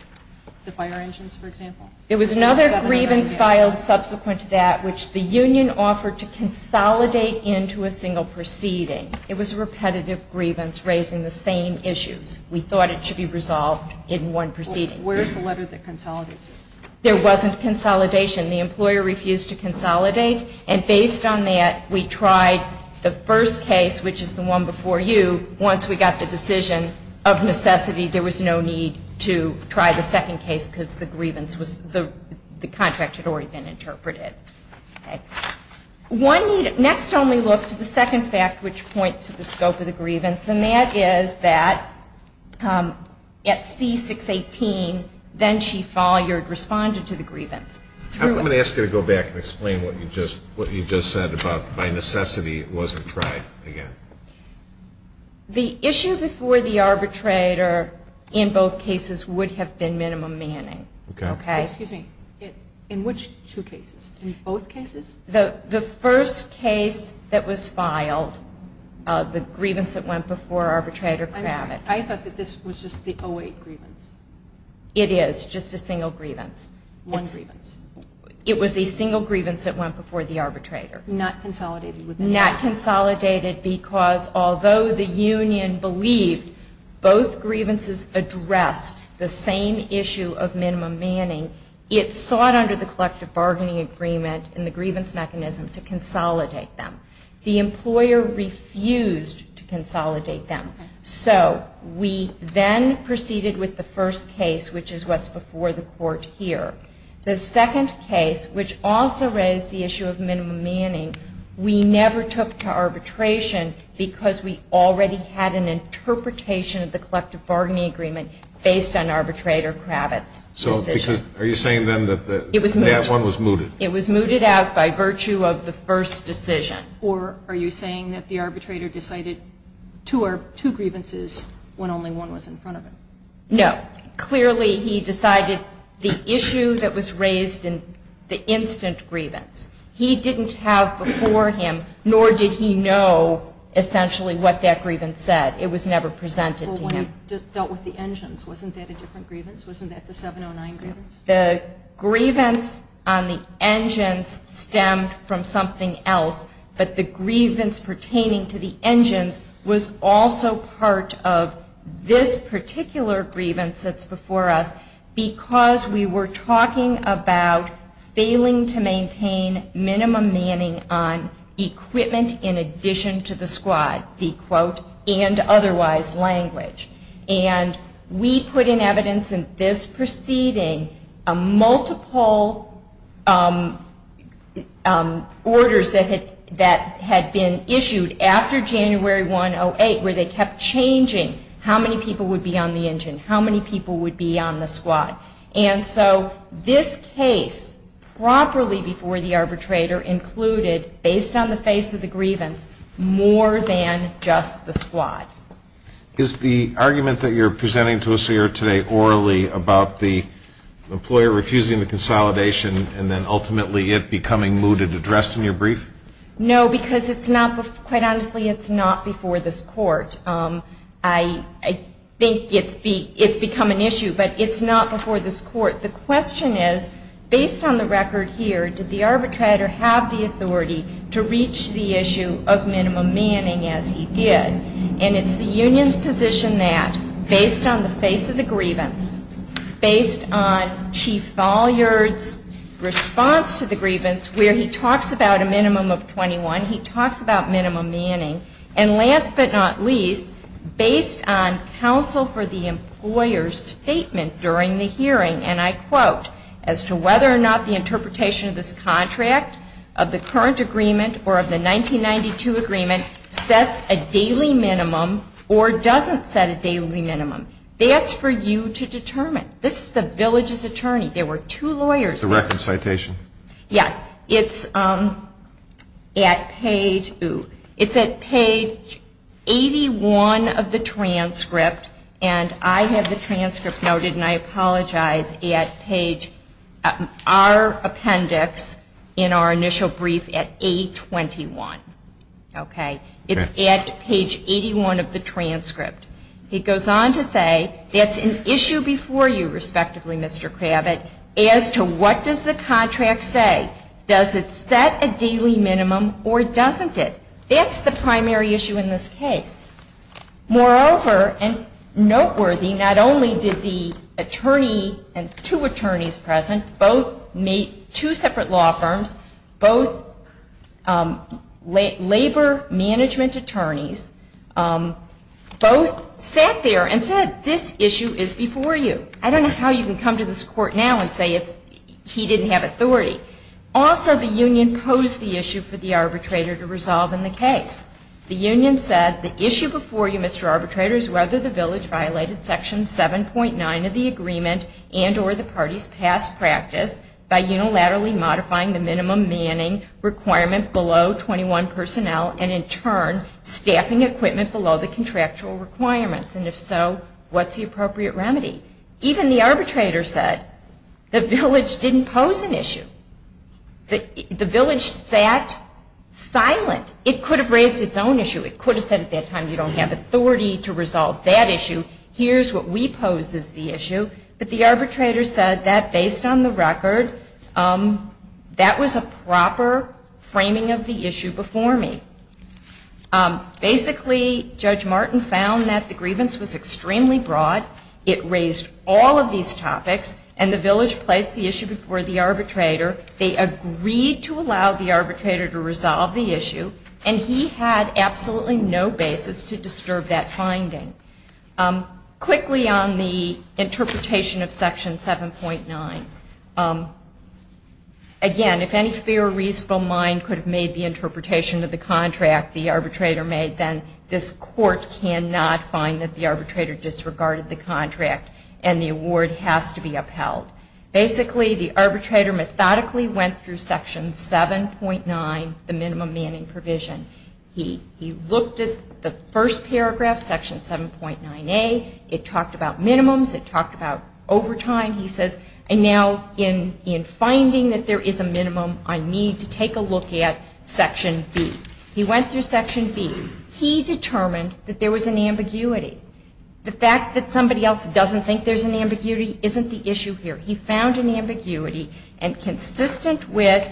The fire engines, for example? There was another grievance filed subsequent to that, which the union offered to consolidate into a single proceeding. It was a repetitive grievance, raising the same issues. We thought it should be resolved in one proceeding. Where's the letter that consolidates it? There wasn't consolidation. The employer refused to consolidate, and based on that, we tried the first case, which is the one before you. Once we got the decision of necessity, there was no need to try the second case, because the contract had already been interpreted. Next only looks at the second fact, which points to the scope of the grievance, and that is that at C-618, then she filed your response to the grievance. I'm going to ask you to go back and explain what you just said about, by necessity, it wasn't tried again. The issue before the arbitrator in both cases would have been minimum manning. Okay. Excuse me. In which two cases? In both cases? The first case that was filed, the grievance that went before arbitrator Kravitz. I thought that this was just the O-8 grievance. It is just a single grievance. One grievance. It was a single grievance that went before the arbitrator. Not consolidated with that. Not consolidated, because although the union believed both grievances addressed the same issue of minimum manning, it sought under the collective bargaining agreement and the grievance mechanism to consolidate them. The employer refused to consolidate them. So we then proceeded with the first case, which is what's before the court here. The second case, which also raised the issue of minimum manning, we never took to arbitration because we already had an interpretation of the collective bargaining agreement based on arbitrator Kravitz. So are you saying then that that one was mooted? It was mooted out by virtue of the first decision. Or are you saying that the arbitrator decided two grievances when only one was in front of him? No. Clearly he decided the issue that was raised in the instant grievance. He didn't have before him, nor did he know essentially what that grievance said. It was never presented to him. You just dealt with the engines. Wasn't that a different grievance? Wasn't that the 709 grievance? The grievance on the engines stemmed from something else, but the grievance pertaining to the engines was also part of this particular grievance that's before us because we were talking about failing to maintain minimum manning on equipment in addition to the squad, the quote, and otherwise language. And we put in evidence in this proceeding multiple orders that had been issued after January 108 where they kept changing how many people would be on the engine, how many people would be on the squad. And so this case properly before the arbitrator included, based on the face of the grievance, more than just the squad. Is the argument that you're presenting to us here today orally about the employer refusing the consolidation and then ultimately it becoming mooted addressed in your brief? No, because quite honestly it's not before this court. I think it's become an issue, but it's not before this court. The question is, based on the record here, did the arbitrator have the authority to reach the issue of minimum manning as he did? And it's the union's position that based on the face of the grievance, based on Chief Vollier's response to the grievance where he talks about a minimum of 21, he talks about minimum manning, and last but not least, based on counsel for the employer's statement during the hearing, and I quote, as to whether or not the interpretation of this contract, of the current agreement or of the 1992 agreement, sets a daily minimum or doesn't set a daily minimum. That's for you to determine. This is the village's attorney. There were two lawyers. It's a record citation. Yes. It's at page 81 of the transcript, and I have the transcript noted, and I apologize, at page, our appendix in our initial brief at 821. Okay. It's at page 81 of the transcript. He goes on to say, it's an issue before you, respectively, Mr. Kravitz, as to what does the contract say. Does it set a daily minimum or doesn't it? That's the primary issue in this case. Moreover, and noteworthy, not only did the attorney and two attorneys present, both made two separate law firms, both labor management attorneys, both sat there and said, this issue is before you. I don't know how you can come to this court now and say he didn't have authority. Also, the union posed the issue for the arbitrator to resolve in the case. The union said, the issue before you, Mr. Arbitrator, is whether the village violated Section 7.9 of the agreement and or the party's past practice by unilaterally modifying the minimum manning requirement below 21 personnel and, in turn, staffing equipment below the contractual requirements, and if so, what's the appropriate remedy? Even the arbitrator said the village didn't pose an issue. The village sat silent. It could have raised its own issue. It could have said at that time, you don't have authority to resolve that issue. Here's what we pose as the issue. But the arbitrator said that, based on the record, that was a proper framing of the issue before me. Basically, Judge Martin found that the grievance was extremely broad. It raised all of these topics, and the village placed the issue before the arbitrator. However, they agreed to allow the arbitrator to resolve the issue, and he had absolutely no basis to disturb that finding. Quickly, on the interpretation of Section 7.9, again, if any theoretical mind could have made the interpretation of the contract the arbitrator made, then this court cannot find that the arbitrator disregarded the contract, and the award has to be upheld. Basically, the arbitrator methodically went through Section 7.9, the minimum manning provision. He looked at the first paragraph, Section 7.9A. It talked about minimums. It talked about overtime. He says, and now in finding that there is a minimum, I need to take a look at Section B. He went through Section B. He determined that there was an ambiguity. The fact that somebody else doesn't think there's an ambiguity isn't the issue here. He found an ambiguity, and consistent with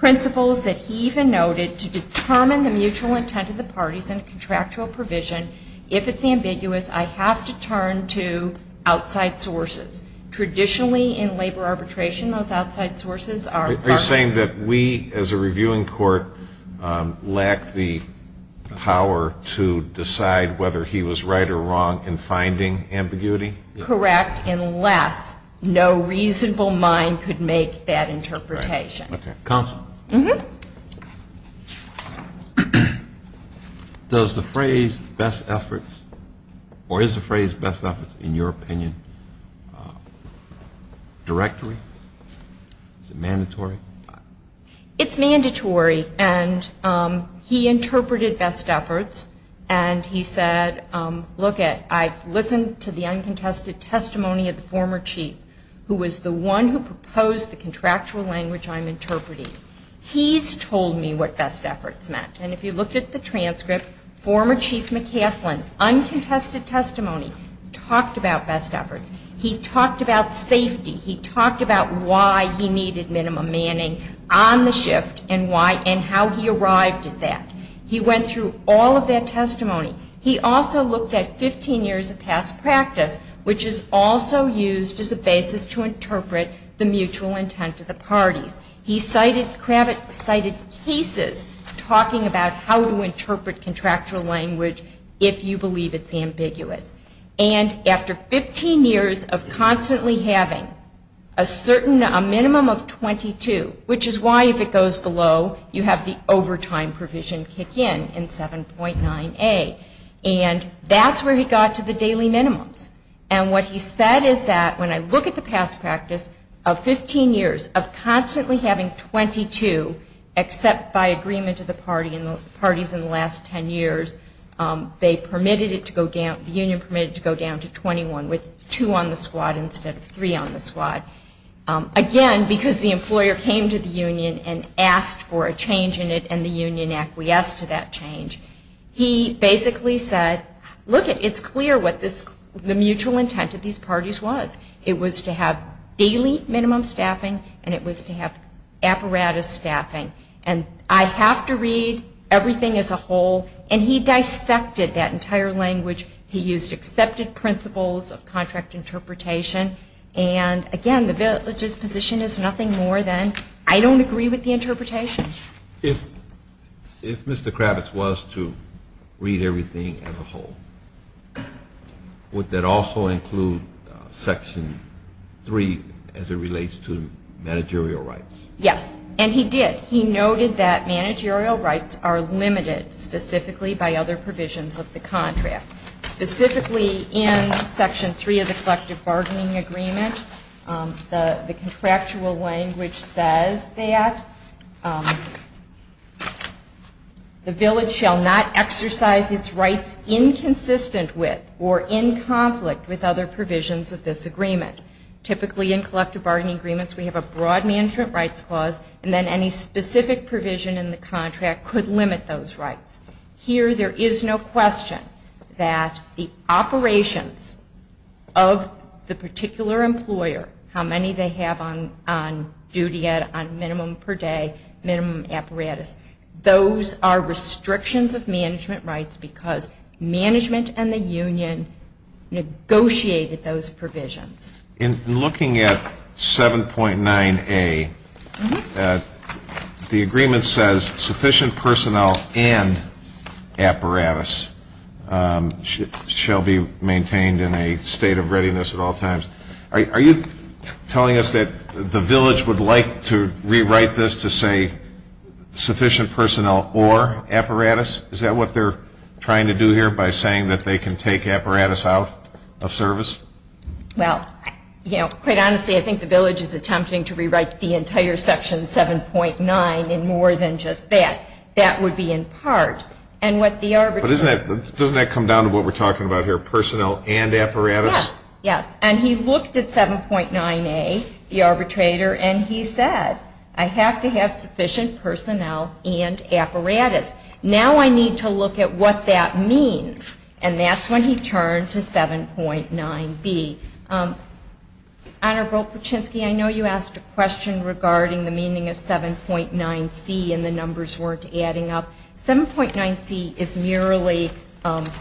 principles that he even noted, to determine the mutual intent of the parties in a contractual provision, if it's ambiguous, I have to turn to outside sources. Traditionally, in labor arbitration, those outside sources are- Are you saying that we, as a reviewing court, lack the power to decide whether he was right or wrong in finding ambiguity? Correct, unless no reasonable mind could make that interpretation. Counsel. Mm-hmm. Does the phrase best efforts, or is the phrase best efforts, in your opinion, directly? Is it mandatory? It's mandatory, and he interpreted best efforts, and he said, look it, I've listened to the uncontested testimony of the former chief, who was the one who proposed the contractual language I'm interpreting. He's told me what best efforts meant, and if you look at the transcript, former chief McCafflin, uncontested testimony, talked about best efforts. He talked about safety. He talked about why he needed minimum manning on the shift, and how he arrived at that. He went through all of that testimony. He also looked at 15 years of past practice, which is also used as a basis to interpret the mutual intent of the parties. He cited cases talking about how to interpret contractual language if you believe it's ambiguous. And after 15 years of constantly having a minimum of 22, which is why if it goes below, you have the overtime provision kick in, in 7.9A, and that's where he got to the daily minimum. And what he said is that when I look at the past practice of 15 years of constantly having 22, except by agreement to the parties in the last 10 years, they permitted it to go down, the union permitted it to go down to 21, with two on the squad instead of three on the squad. Again, because the employer came to the union and asked for a change in it, and the union acquiesced to that change. He basically said, look, it's clear what the mutual intent of these parties was. It was to have daily minimum staffing, and it was to have apparatus staffing. And I have to read everything as a whole. And he dissected that entire language. He used accepted principles of contract interpretation. And again, the position is nothing more than, I don't agree with the interpretation. If Mr. Kravitz was to read everything as a whole, would that also include Section 3 as it relates to managerial rights? Yes, and he did. He noted that managerial rights are limited specifically by other provisions of the contract. Specifically in Section 3 of the Collective Bargaining Agreement, the contractual language says that the village shall not exercise its rights inconsistent with or in conflict with other provisions of this agreement. Typically in Collective Bargaining Agreements, we have a broad management rights clause, and then any specific provision in the contract could limit those rights. However, here there is no question that the operations of the particular employer, how many they have on duty on minimum per day, minimum apparatus, those are restrictions of management rights because management and the union negotiated those provisions. In looking at 7.9A, the agreement says sufficient personnel and apparatus shall be maintained in a state of readiness at all times. Are you telling us that the village would like to rewrite this to say sufficient personnel or apparatus? Is that what they're trying to do here by saying that they can take apparatus out of service? Well, quite honestly, I think the village is attempting to rewrite the entire Section 7.9 in more than just that. That would be in part. But doesn't that come down to what we're talking about here, personnel and apparatus? Yes, and he looked at 7.9A, the arbitrator, and he said I have to have sufficient personnel and apparatus. Now I need to look at what that means. And that's when he turned to 7.9B. I know you asked a question regarding the meaning of 7.9C and the numbers weren't adding up. 7.9C is merely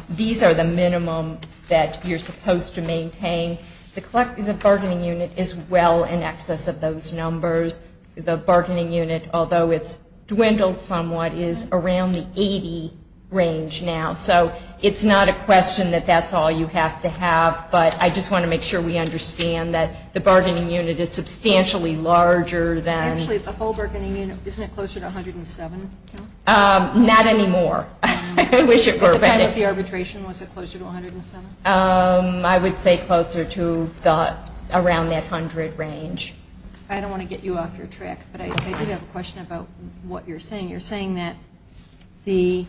these are the minimum that you're supposed to maintain. The bargaining unit is well in excess of those numbers. The bargaining unit, although it's dwindled somewhat, is around the 80 range now. So it's not a question that that's all you have to have, but I just want to make sure we understand that the bargaining unit is substantially larger than- Actually, the whole bargaining unit, isn't it closer to 107? Not anymore. I wish it were, but- The arbitration, was it closer to 107? I would say closer to around that 100 range. I don't want to get you off your track, but I do have a question about what you're saying. You're saying that the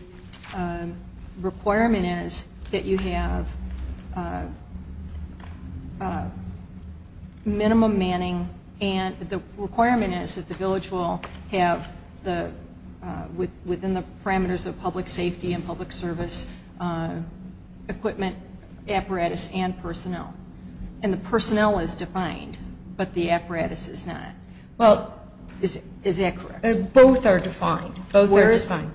requirement is that you have minimum manning, and the requirement is that the village will have within the parameters of public safety and public service equipment, apparatus, and personnel. And the personnel is defined, but the apparatus is not. Is that correct? Both are defined. When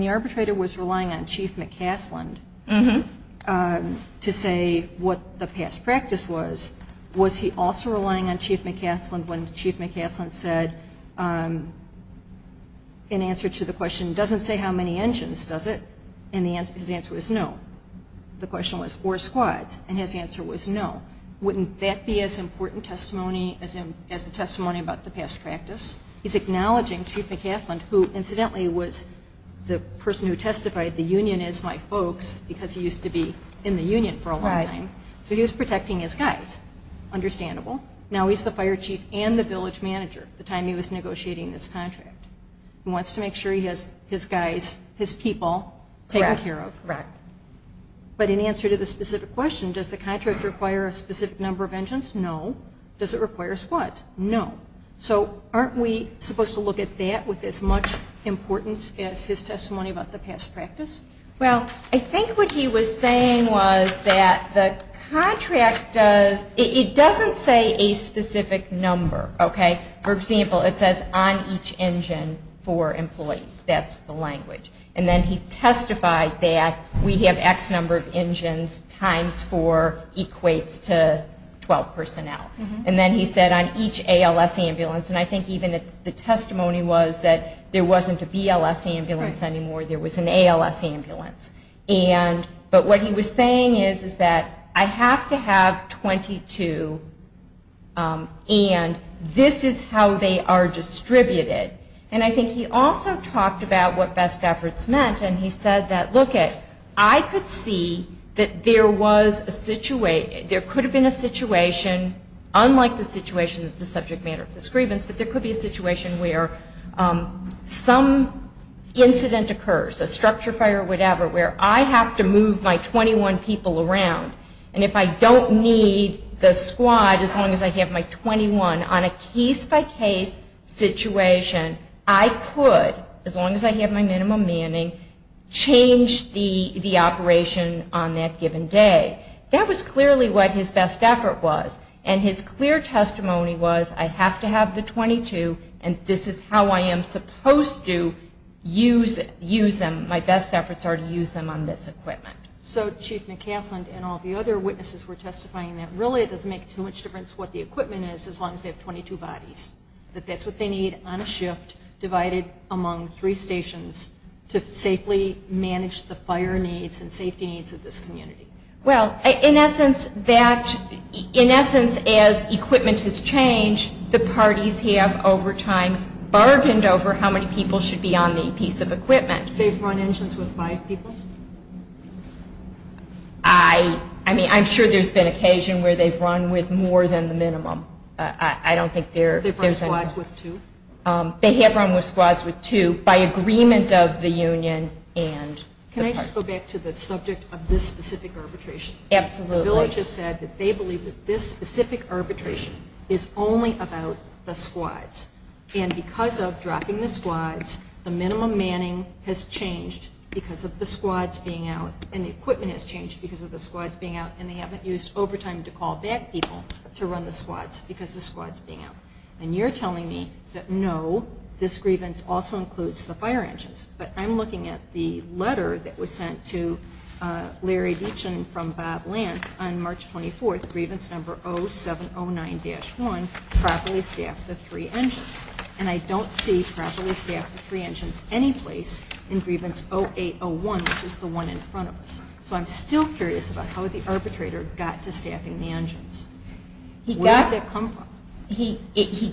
the arbitrator was relying on Chief McCasland to say what the past practice was, was he also relying on Chief McCasland when Chief McCasland said, in answer to the question, doesn't say how many engines, does it? And his answer was no. The question was four squads, and his answer was no. Wouldn't that be as important as a testimony about the past practice? He's acknowledging Chief McCasland, who incidentally was the person who testified, the union is my folks, because he used to be in the union for a long time. So he was protecting his guys. Understandable. Now he's the fire chief and the village manager, the time he was negotiating this contract. He wants to make sure he has his guys, his people taken care of. Correct. But in answer to the specific question, does the contract require a specific number of engines? No. Does it require squads? No. So aren't we supposed to look at that with as much importance as his testimony about the past practice? Well, I think what he was saying was that the contract does, it doesn't say a specific number, okay? For example, it says on each engine four employees. That's the language. And then he testified that we have X number of engines times four equates to 12 personnel. And then he said on each ALS ambulance, and I think even the testimony was that there wasn't a BLS ambulance anymore. There was an ALS ambulance. But what he was saying is that I have to have 22, and this is how they are distributed. And I think he also talked about what best efforts meant, and he said that, look, I could see that there was a situation, there could have been a situation, unlike the situation of the subject matter prescribance, but there could be a situation where some incident occurs, a structure fire or whatever, where I have to move my 21 people around. And if I don't need the squad as long as I have my 21 on a case-by-case situation, I could, as long as I have my minimum manning, change the operation on that given day. That was clearly what his best effort was. And his clear testimony was I have to have the 22, and this is how I am supposed to use them. My best efforts are to use them on this equipment. So Chief McCafflin and all the other witnesses were testifying that really it doesn't make too much difference what the equipment is as long as they have 22 bodies, that that's what they need on a shift divided among three stations to safely manage the fire needs and safety needs of this community. Well, in essence, as equipment has changed, the parties have over time bargained over how many people should be on the piece of equipment. They've run engines with five people? I mean, I'm sure there's been occasion where they've run with more than the minimum. They've run squads with two? They have run with squads with two by agreement of the union. Can I just go back to the subject of this specific arbitration? Absolutely. I really just said that they believe that this specific arbitration is only about the squads. And because of dropping the squads, the minimum manning has changed because of the squads being out, and the equipment has changed because of the squads being out, and they haven't used over time to call back people to run the squads because the squads being out. And you're telling me that no, this grievance also includes the fire engines. But I'm looking at the letter that was sent to Larry Beechin from Bob Lance on March 24th, grievance number 0709-1, properly staffed with three engines. And I don't see properly staffed with three engines any place in grievance 0801, which is the one in front of us. So I'm still curious about how the arbitrator got to staffing the engines. Where did that come from? He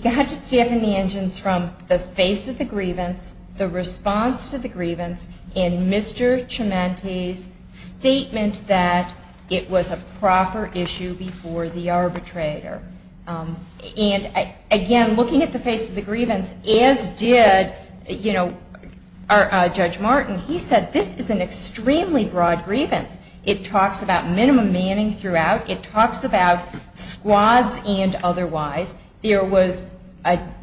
got to staffing the engines from the face of the grievance, the response to the grievance, and Mr. Cimenti's statement that it was a proper issue before the arbitrator. And, again, looking at the face of the grievance, as did, you know, Judge Martin. He said this is an extremely broad grievance. It talks about minimum manning throughout. It talks about squads and otherwise. There was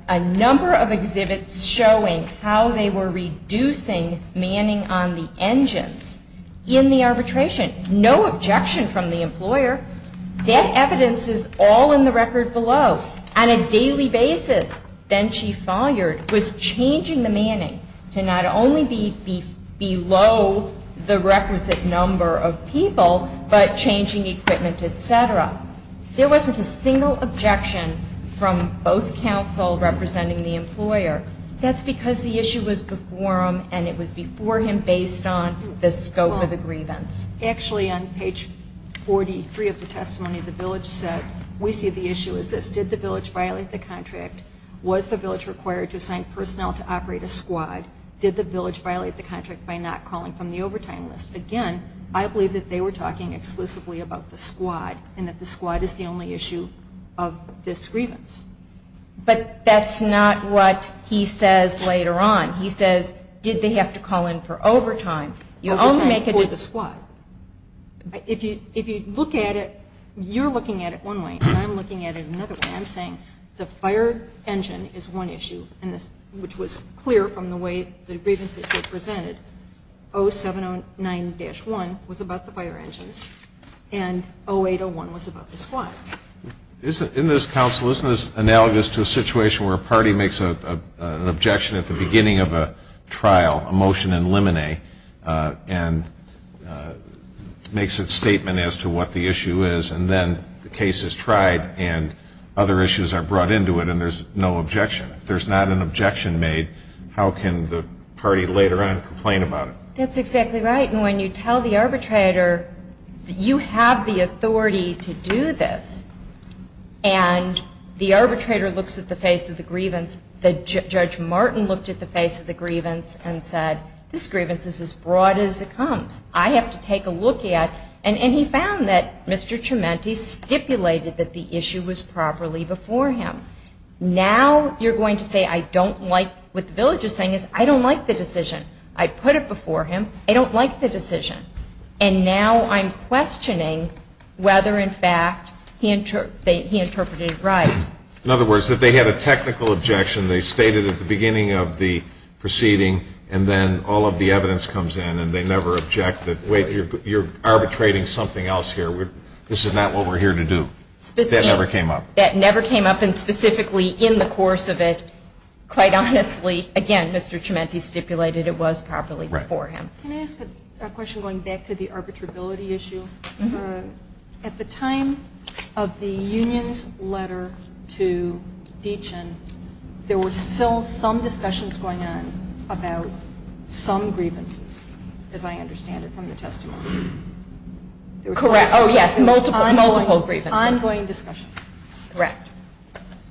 a number of exhibits showing how they were reducing manning on the engines in the arbitration. No objection from the employer. Dead evidence is all in the record below. On a daily basis, then Chief Sawyer was changing the manning to not only be below the requisite number of people, but changing equipment, et cetera. There wasn't a single objection from both counsel representing the employer. That's because the issue was before him, and it was before him based on the scope of the grievance. Actually, on page 43 of the testimony, the village said, we see the issue as this. Did the village violate the contract? Was the village required to assign personnel to operate a squad? Did the village violate the contract by not calling from the overtime list? Again, I believe that they were talking exclusively about the squad, and that the squad is the only issue of this grievance. But that's not what he says later on. He says, did they have to call in for overtime? You only make it as a squad. If you look at it, you're looking at it one way, and I'm looking at it another way. I'm saying the fire engine is one issue, which was clear from the way the grievances were presented. 0709-1 was about the fire engine, and 0801 was about the squad. Isn't this analogous to a situation where a party makes an objection at the beginning of a trial, a motion in limine, and makes a statement as to what the issue is, and then the case is tried and other issues are brought into it and there's no objection. If there's not an objection made, how can the party later on complain about it? That's exactly right. And when you tell the arbitrator that you have the authority to do this, and the arbitrator looks at the face of the grievance, the Judge Martin looked at the face of the grievance and said, this grievance is as broad as it comes. I have to take a look at it. And he found that Mr. Trementi stipulated that the issue was properly before him. Now you're going to say, I don't like, what the village is saying is, I don't like the decision. I put it before him. I don't like the decision. And now I'm questioning whether, in fact, he interpreted it right. In other words, if they had a technical objection, they stated at the beginning of the proceeding and then all of the evidence comes in and they never object that, wait, you're arbitrating something else here. This is not what we're here to do. That never came up. That never came up. And specifically in the course of it, quite honestly, again, Mr. Trementi stipulated it was properly before him. Can I ask a question going back to the arbitrability issue? At the time of the union's letter to Deachen, there were still some discussions going on about some grievances, as I understand it from the testimony. Correct. Oh, yes. Multiple grievances. Ongoing discussions. Correct.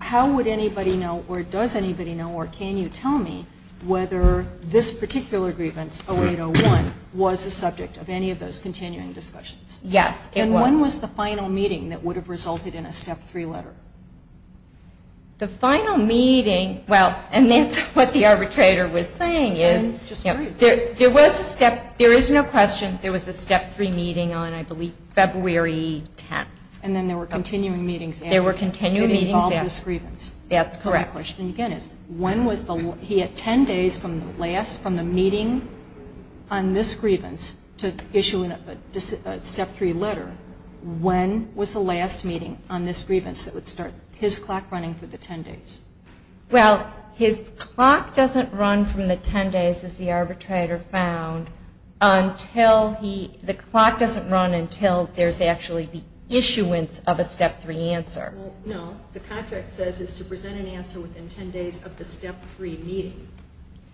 How would anybody know, or does anybody know, or can you tell me whether this particular grievance, 0801, was the subject of any of those continuing discussions? Yes, it was. And when was the final meeting that would have resulted in a step three letter? The final meeting, well, and that's what the arbitrator was saying is there was a step, there is no question there was a step three meeting on, I believe, February 10th. And then there were continuing meetings. There were continuing meetings. To resolve this grievance. That's correct. My question, again, is when was the, he had 10 days from the last, from the meeting on this grievance to issue a step three letter. When was the last meeting on this grievance that would start his clock running for the 10 days? Well, his clock doesn't run from the 10 days, as the arbitrator found, until he, the clock doesn't run until there's actually the issuance of a step three answer. No, the contract says it's to present an answer within 10 days of the step three meeting.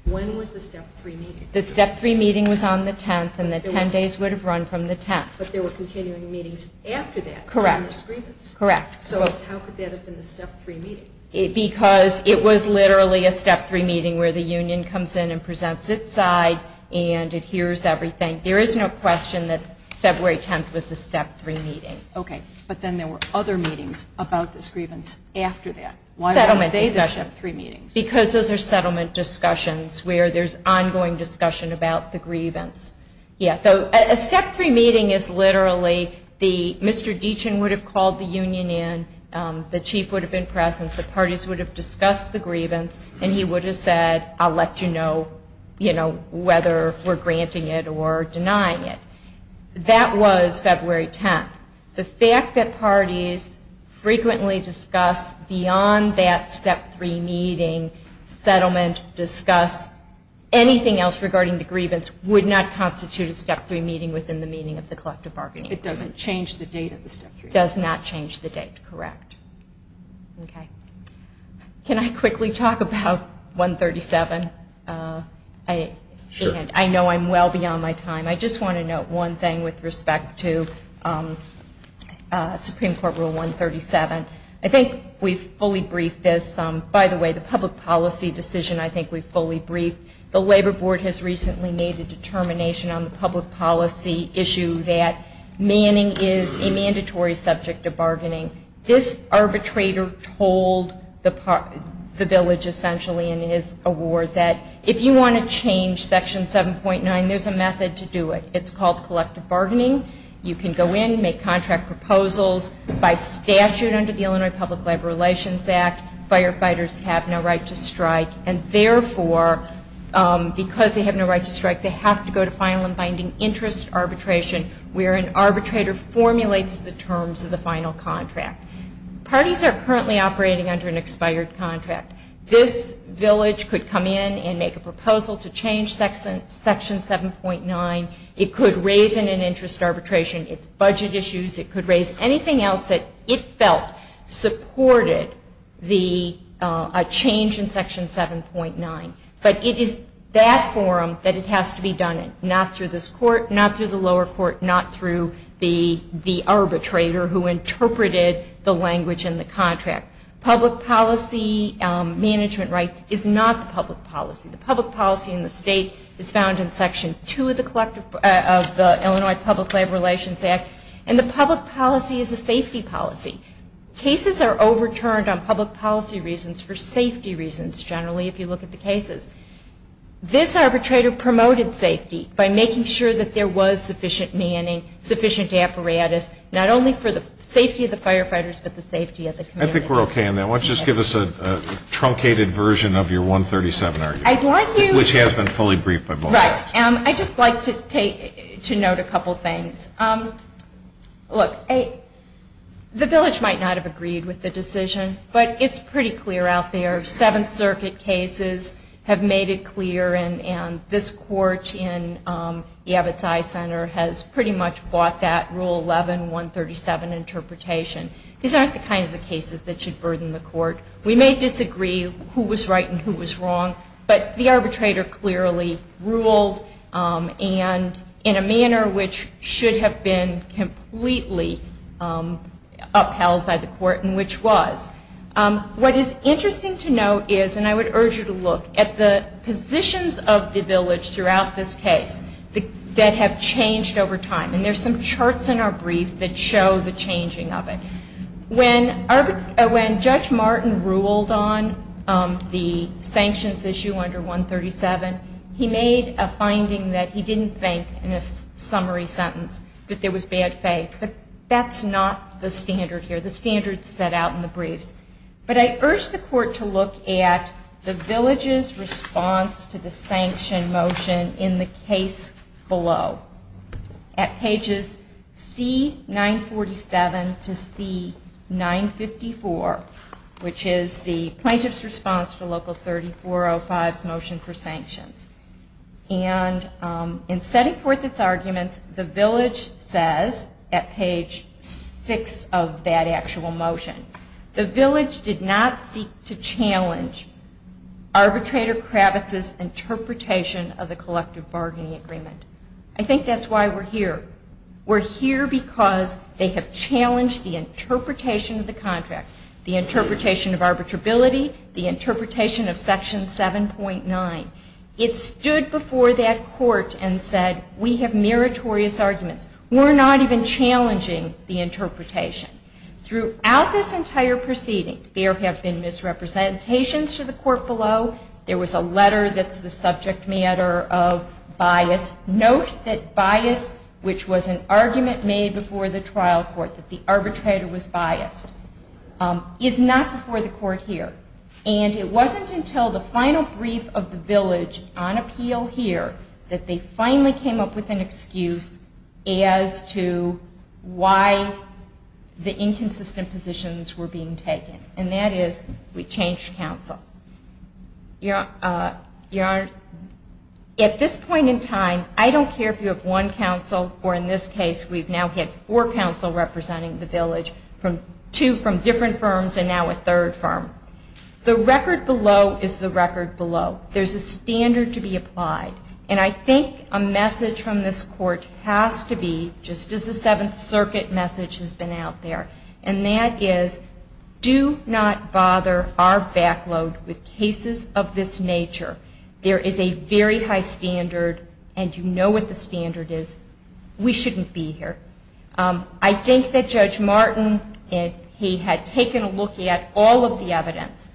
When was the step three meeting? The step three meeting was on the 10th, and the 10 days would have run from the 10th. But there were continuing meetings after that. Correct. Correct. So how could that have been a step three meeting? Because it was literally a step three meeting where the union comes in and presents its side, and it hears everything. There is no question that February 10th was a step three meeting. Okay. But then there were other meetings about this grievance after that. Why was it a step three meeting? Because those are settlement discussions where there's ongoing discussion about the grievance. Yeah, so a step three meeting is literally the, Mr. Deachin would have called the union in, the chief would have been present, the parties would have discussed the grievance, and he would have said, I'll let you know, you know, whether we're granting it or denying it. That was February 10th. The fact that parties frequently discuss beyond that step three meeting, settlement, discuss anything else regarding the grievance would not constitute a step three meeting within the meaning of the collective bargaining agreement. It doesn't change the date of the step three meeting. Does not change the date, correct. Okay. Can I quickly talk about 137? Sure. I know I'm well beyond my time. I just want to note one thing with respect to Supreme Court Rule 137. I think we've fully briefed this. By the way, the public policy decision I think we've fully briefed. The Labor Board has recently made a determination on the public policy issue that manning is a mandatory subject of bargaining. This arbitrator told the village essentially in his award that if you want to change Section 7.9, then there's a method to do it. It's called collective bargaining. You can go in and make contract proposals by statute under the Illinois Public Labor Relations Act. Firefighters have no right to strike, and therefore, because they have no right to strike, they have to go to final and binding interest arbitration where an arbitrator formulates the terms of the final contract. Parties are currently operating under an expired contract. This village could come in and make a proposal to change Section 7.9. It could raise an interest arbitration. It's budget issues. It could raise anything else that it felt supported a change in Section 7.9. But it is that forum that it has to be done in, not through this court, not through the lower court, not through the arbitrator who interpreted the language in the contract. Public policy management rights is not the public policy. The public policy in the state is found in Section 2 of the Illinois Public Labor Relations Act, and the public policy is a safety policy. Cases are overturned on public policy reasons for safety reasons, generally, if you look at the cases. This arbitrator promoted safety by making sure that there was sufficient manning, sufficient apparatus, not only for the safety of the firefighters, but the safety of the community. I think we're okay on that. Why don't you just give us a truncated version of your 137 argument, which has been fully briefed by both of you. Right. I'd just like to note a couple things. Look, the village might not have agreed with the decision, but it's pretty clear out there. Seventh Circuit cases have made it clear, and this court in the Abitai Center has pretty much fought that Rule 11, 137 interpretation. These aren't the kinds of cases that should burden the court. We may disagree who was right and who was wrong, but the arbitrator clearly ruled, and in a manner which should have been completely upheld by the court, and which was. What is interesting to note is, and I would urge you to look, at the positions of the village throughout this case that have changed over time, and there's some charts in our brief that show the changing of it. When Judge Martin ruled on the sanctions issue under 137, he made a finding that he didn't think, in a summary sentence, that there was bad faith. That's not the standard here. That's the standard set out in the brief. But I urge the court to look at the village's response to the sanction motion in the case below. At pages C-947 to C-954, which is the plaintiff's response to Local 3405's motion for sanctions. And in setting forth this argument, the village says, at page 6 of that actual motion, the village did not seek to challenge arbitrator Kravitz's interpretation of the collective bargaining agreement. I think that's why we're here. We're here because they have challenged the interpretation of the contract, the interpretation of arbitrability, the interpretation of Section 7.9. It stood before that court and said, we have meritorious arguments. We're not even challenging the interpretation. Throughout this entire proceeding, there have been misrepresentations to the court below. There was a letter that's the subject matter of bias. Note that bias, which was an argument made before the trial court that the arbitrator was biased, is not before the court here. And it wasn't until the final brief of the village on appeal here that they finally came up with an excuse as to why the inconsistent positions were being taken. And that is, we changed counsel. Your Honor, at this point in time, I don't care if you have one counsel, or in this case we've now had four counsel representing the village, two from different firms and now a third firm. The record below is the record below. There's a standard to be applied. And I think a message from this court has to be, just as the Seventh Circuit message has been out there, and that is, do not bother our back load with cases of this nature. There is a very high standard, and you know what the standard is. We shouldn't be here. I think that Judge Martin, he had taken a look at all of the evidence,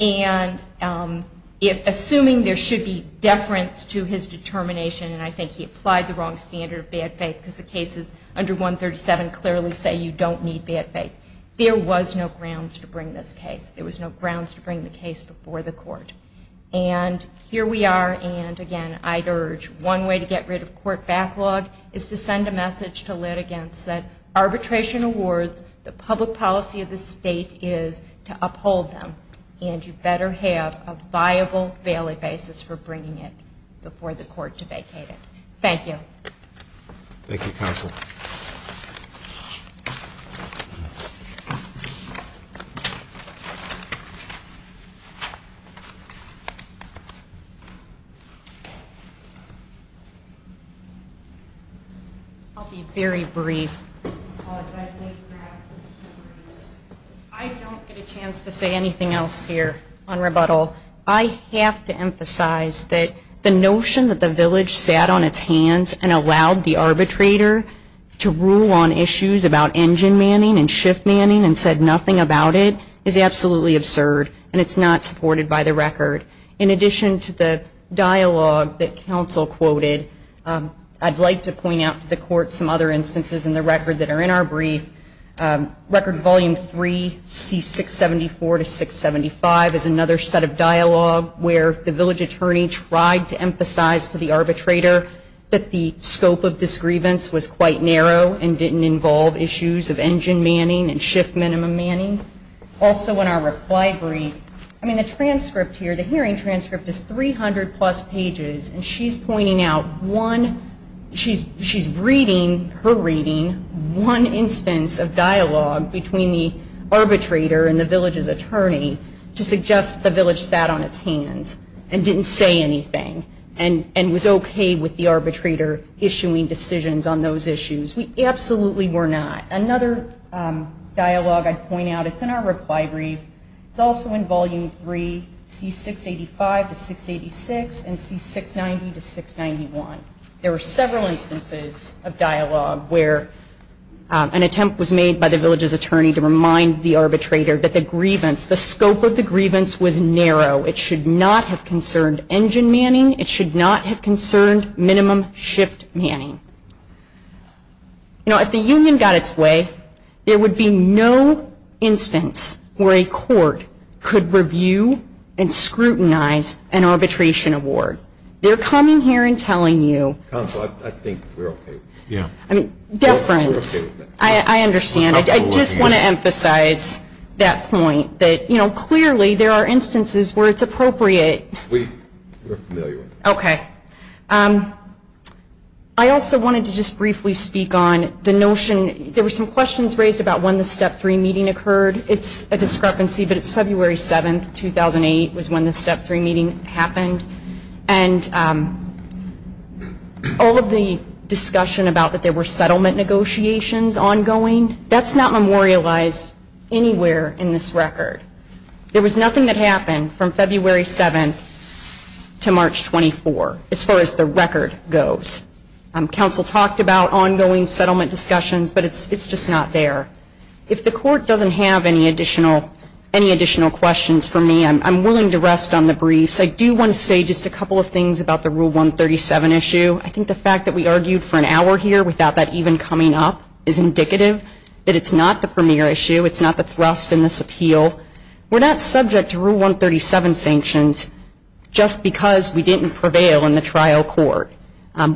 and assuming there should be deference to his determination, and I think he applied the wrong standard of bad faith because the cases under 137 clearly say you don't need bad faith. There was no grounds to bring this case. There was no grounds to bring the case before the court. And here we are, and again, I'd urge, one way to get rid of court backlog is to send a message to litigants that arbitration awards, the public policy of the state is to uphold them, and you better have a viable valid basis for bringing it before the court to vacate it. Thank you. Thank you, counsel. I'll be very brief. I don't get a chance to say anything else here on rebuttal. I have to emphasize that the notion that the village sat on its hands and allowed the arbitrator to rule on issues about engine manning and shift manning and said nothing about it is absolutely absurd, and it's not supported by the record. In addition to the dialogue that counsel quoted, I'd like to point out to the court some other instances in the record that are in our brief. Record Volume 3, C674 to 675 is another set of dialogue where the village attorney tried to emphasize to the arbitrator that the scope of this grievance was quite narrow and didn't involve issues of engine manning and shift minimum manning. Also in our reply brief, I mean, the transcript here, the hearing transcript is 300 plus pages, and she's pointing out one, she's reading, her reading, one instance of dialogue between the arbitrator and the village's attorney to suggest the village sat on its hands and didn't say anything and was okay with the arbitrator issuing decisions on those issues. We absolutely were not. Another dialogue I'd point out, it's in our reply brief, it's also in Volume 3, C685 to 686 and C690 to 691. There were several instances of dialogue where an attempt was made by the village's attorney to remind the arbitrator that the grievance, the scope of the grievance was narrow. It should not have concerned engine manning. It should not have concerned minimum shift manning. You know, if the union got its way, there would be no instance where a court could review and scrutinize an arbitration award. They're coming here and telling you. Counsel, I think we're okay. Yeah. Different. I understand. I just want to emphasize that point that, you know, clearly there are instances where it's appropriate. We're familiar. Okay. I also wanted to just briefly speak on the notion, there were some questions raised about when the Step 3 meeting occurred. It's a discrepancy, but it's February 7, 2008 was when the Step 3 meeting happened. And all of the discussion about that there were settlement negotiations ongoing, that's not memorialized anywhere in this record. There was nothing that happened from February 7 to March 24 as far as the record goes. Counsel talked about ongoing settlement discussions, but it's just not there. If the court doesn't have any additional questions for me, I'm willing to rest on the briefs. I do want to say just a couple of things about the Rule 137 issue. I think the fact that we argued for an hour here without that even coming up is indicative that it's not the premier issue. It's not the thrust in this appeal. We're not subject to Rule 137 sanctions just because we didn't prevail in the trial court.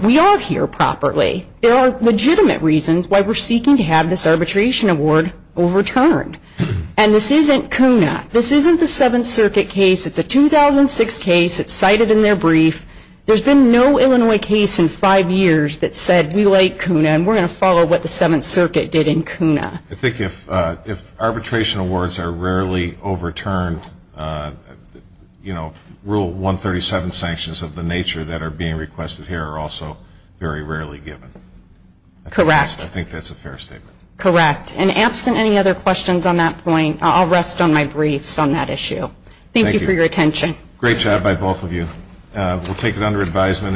We are here properly. There are legitimate reasons why we're seeking to have this arbitration award overturned. And this isn't CUNA. This isn't the Seventh Circuit case. It's a 2006 case. It's cited in their brief. There's been no Illinois case in five years that said we like CUNA and we're going to follow what the Seventh Circuit did in CUNA. I think if arbitration awards are rarely overturned, you know, Rule 137 sanctions of the nature that are being requested here are also very rarely given. Correct. I think that's a fair statement. Correct. And absent any other questions on that point, I'll rest on my briefs on that issue. Thank you for your attention. Great job by both of you. We'll take it under advisement.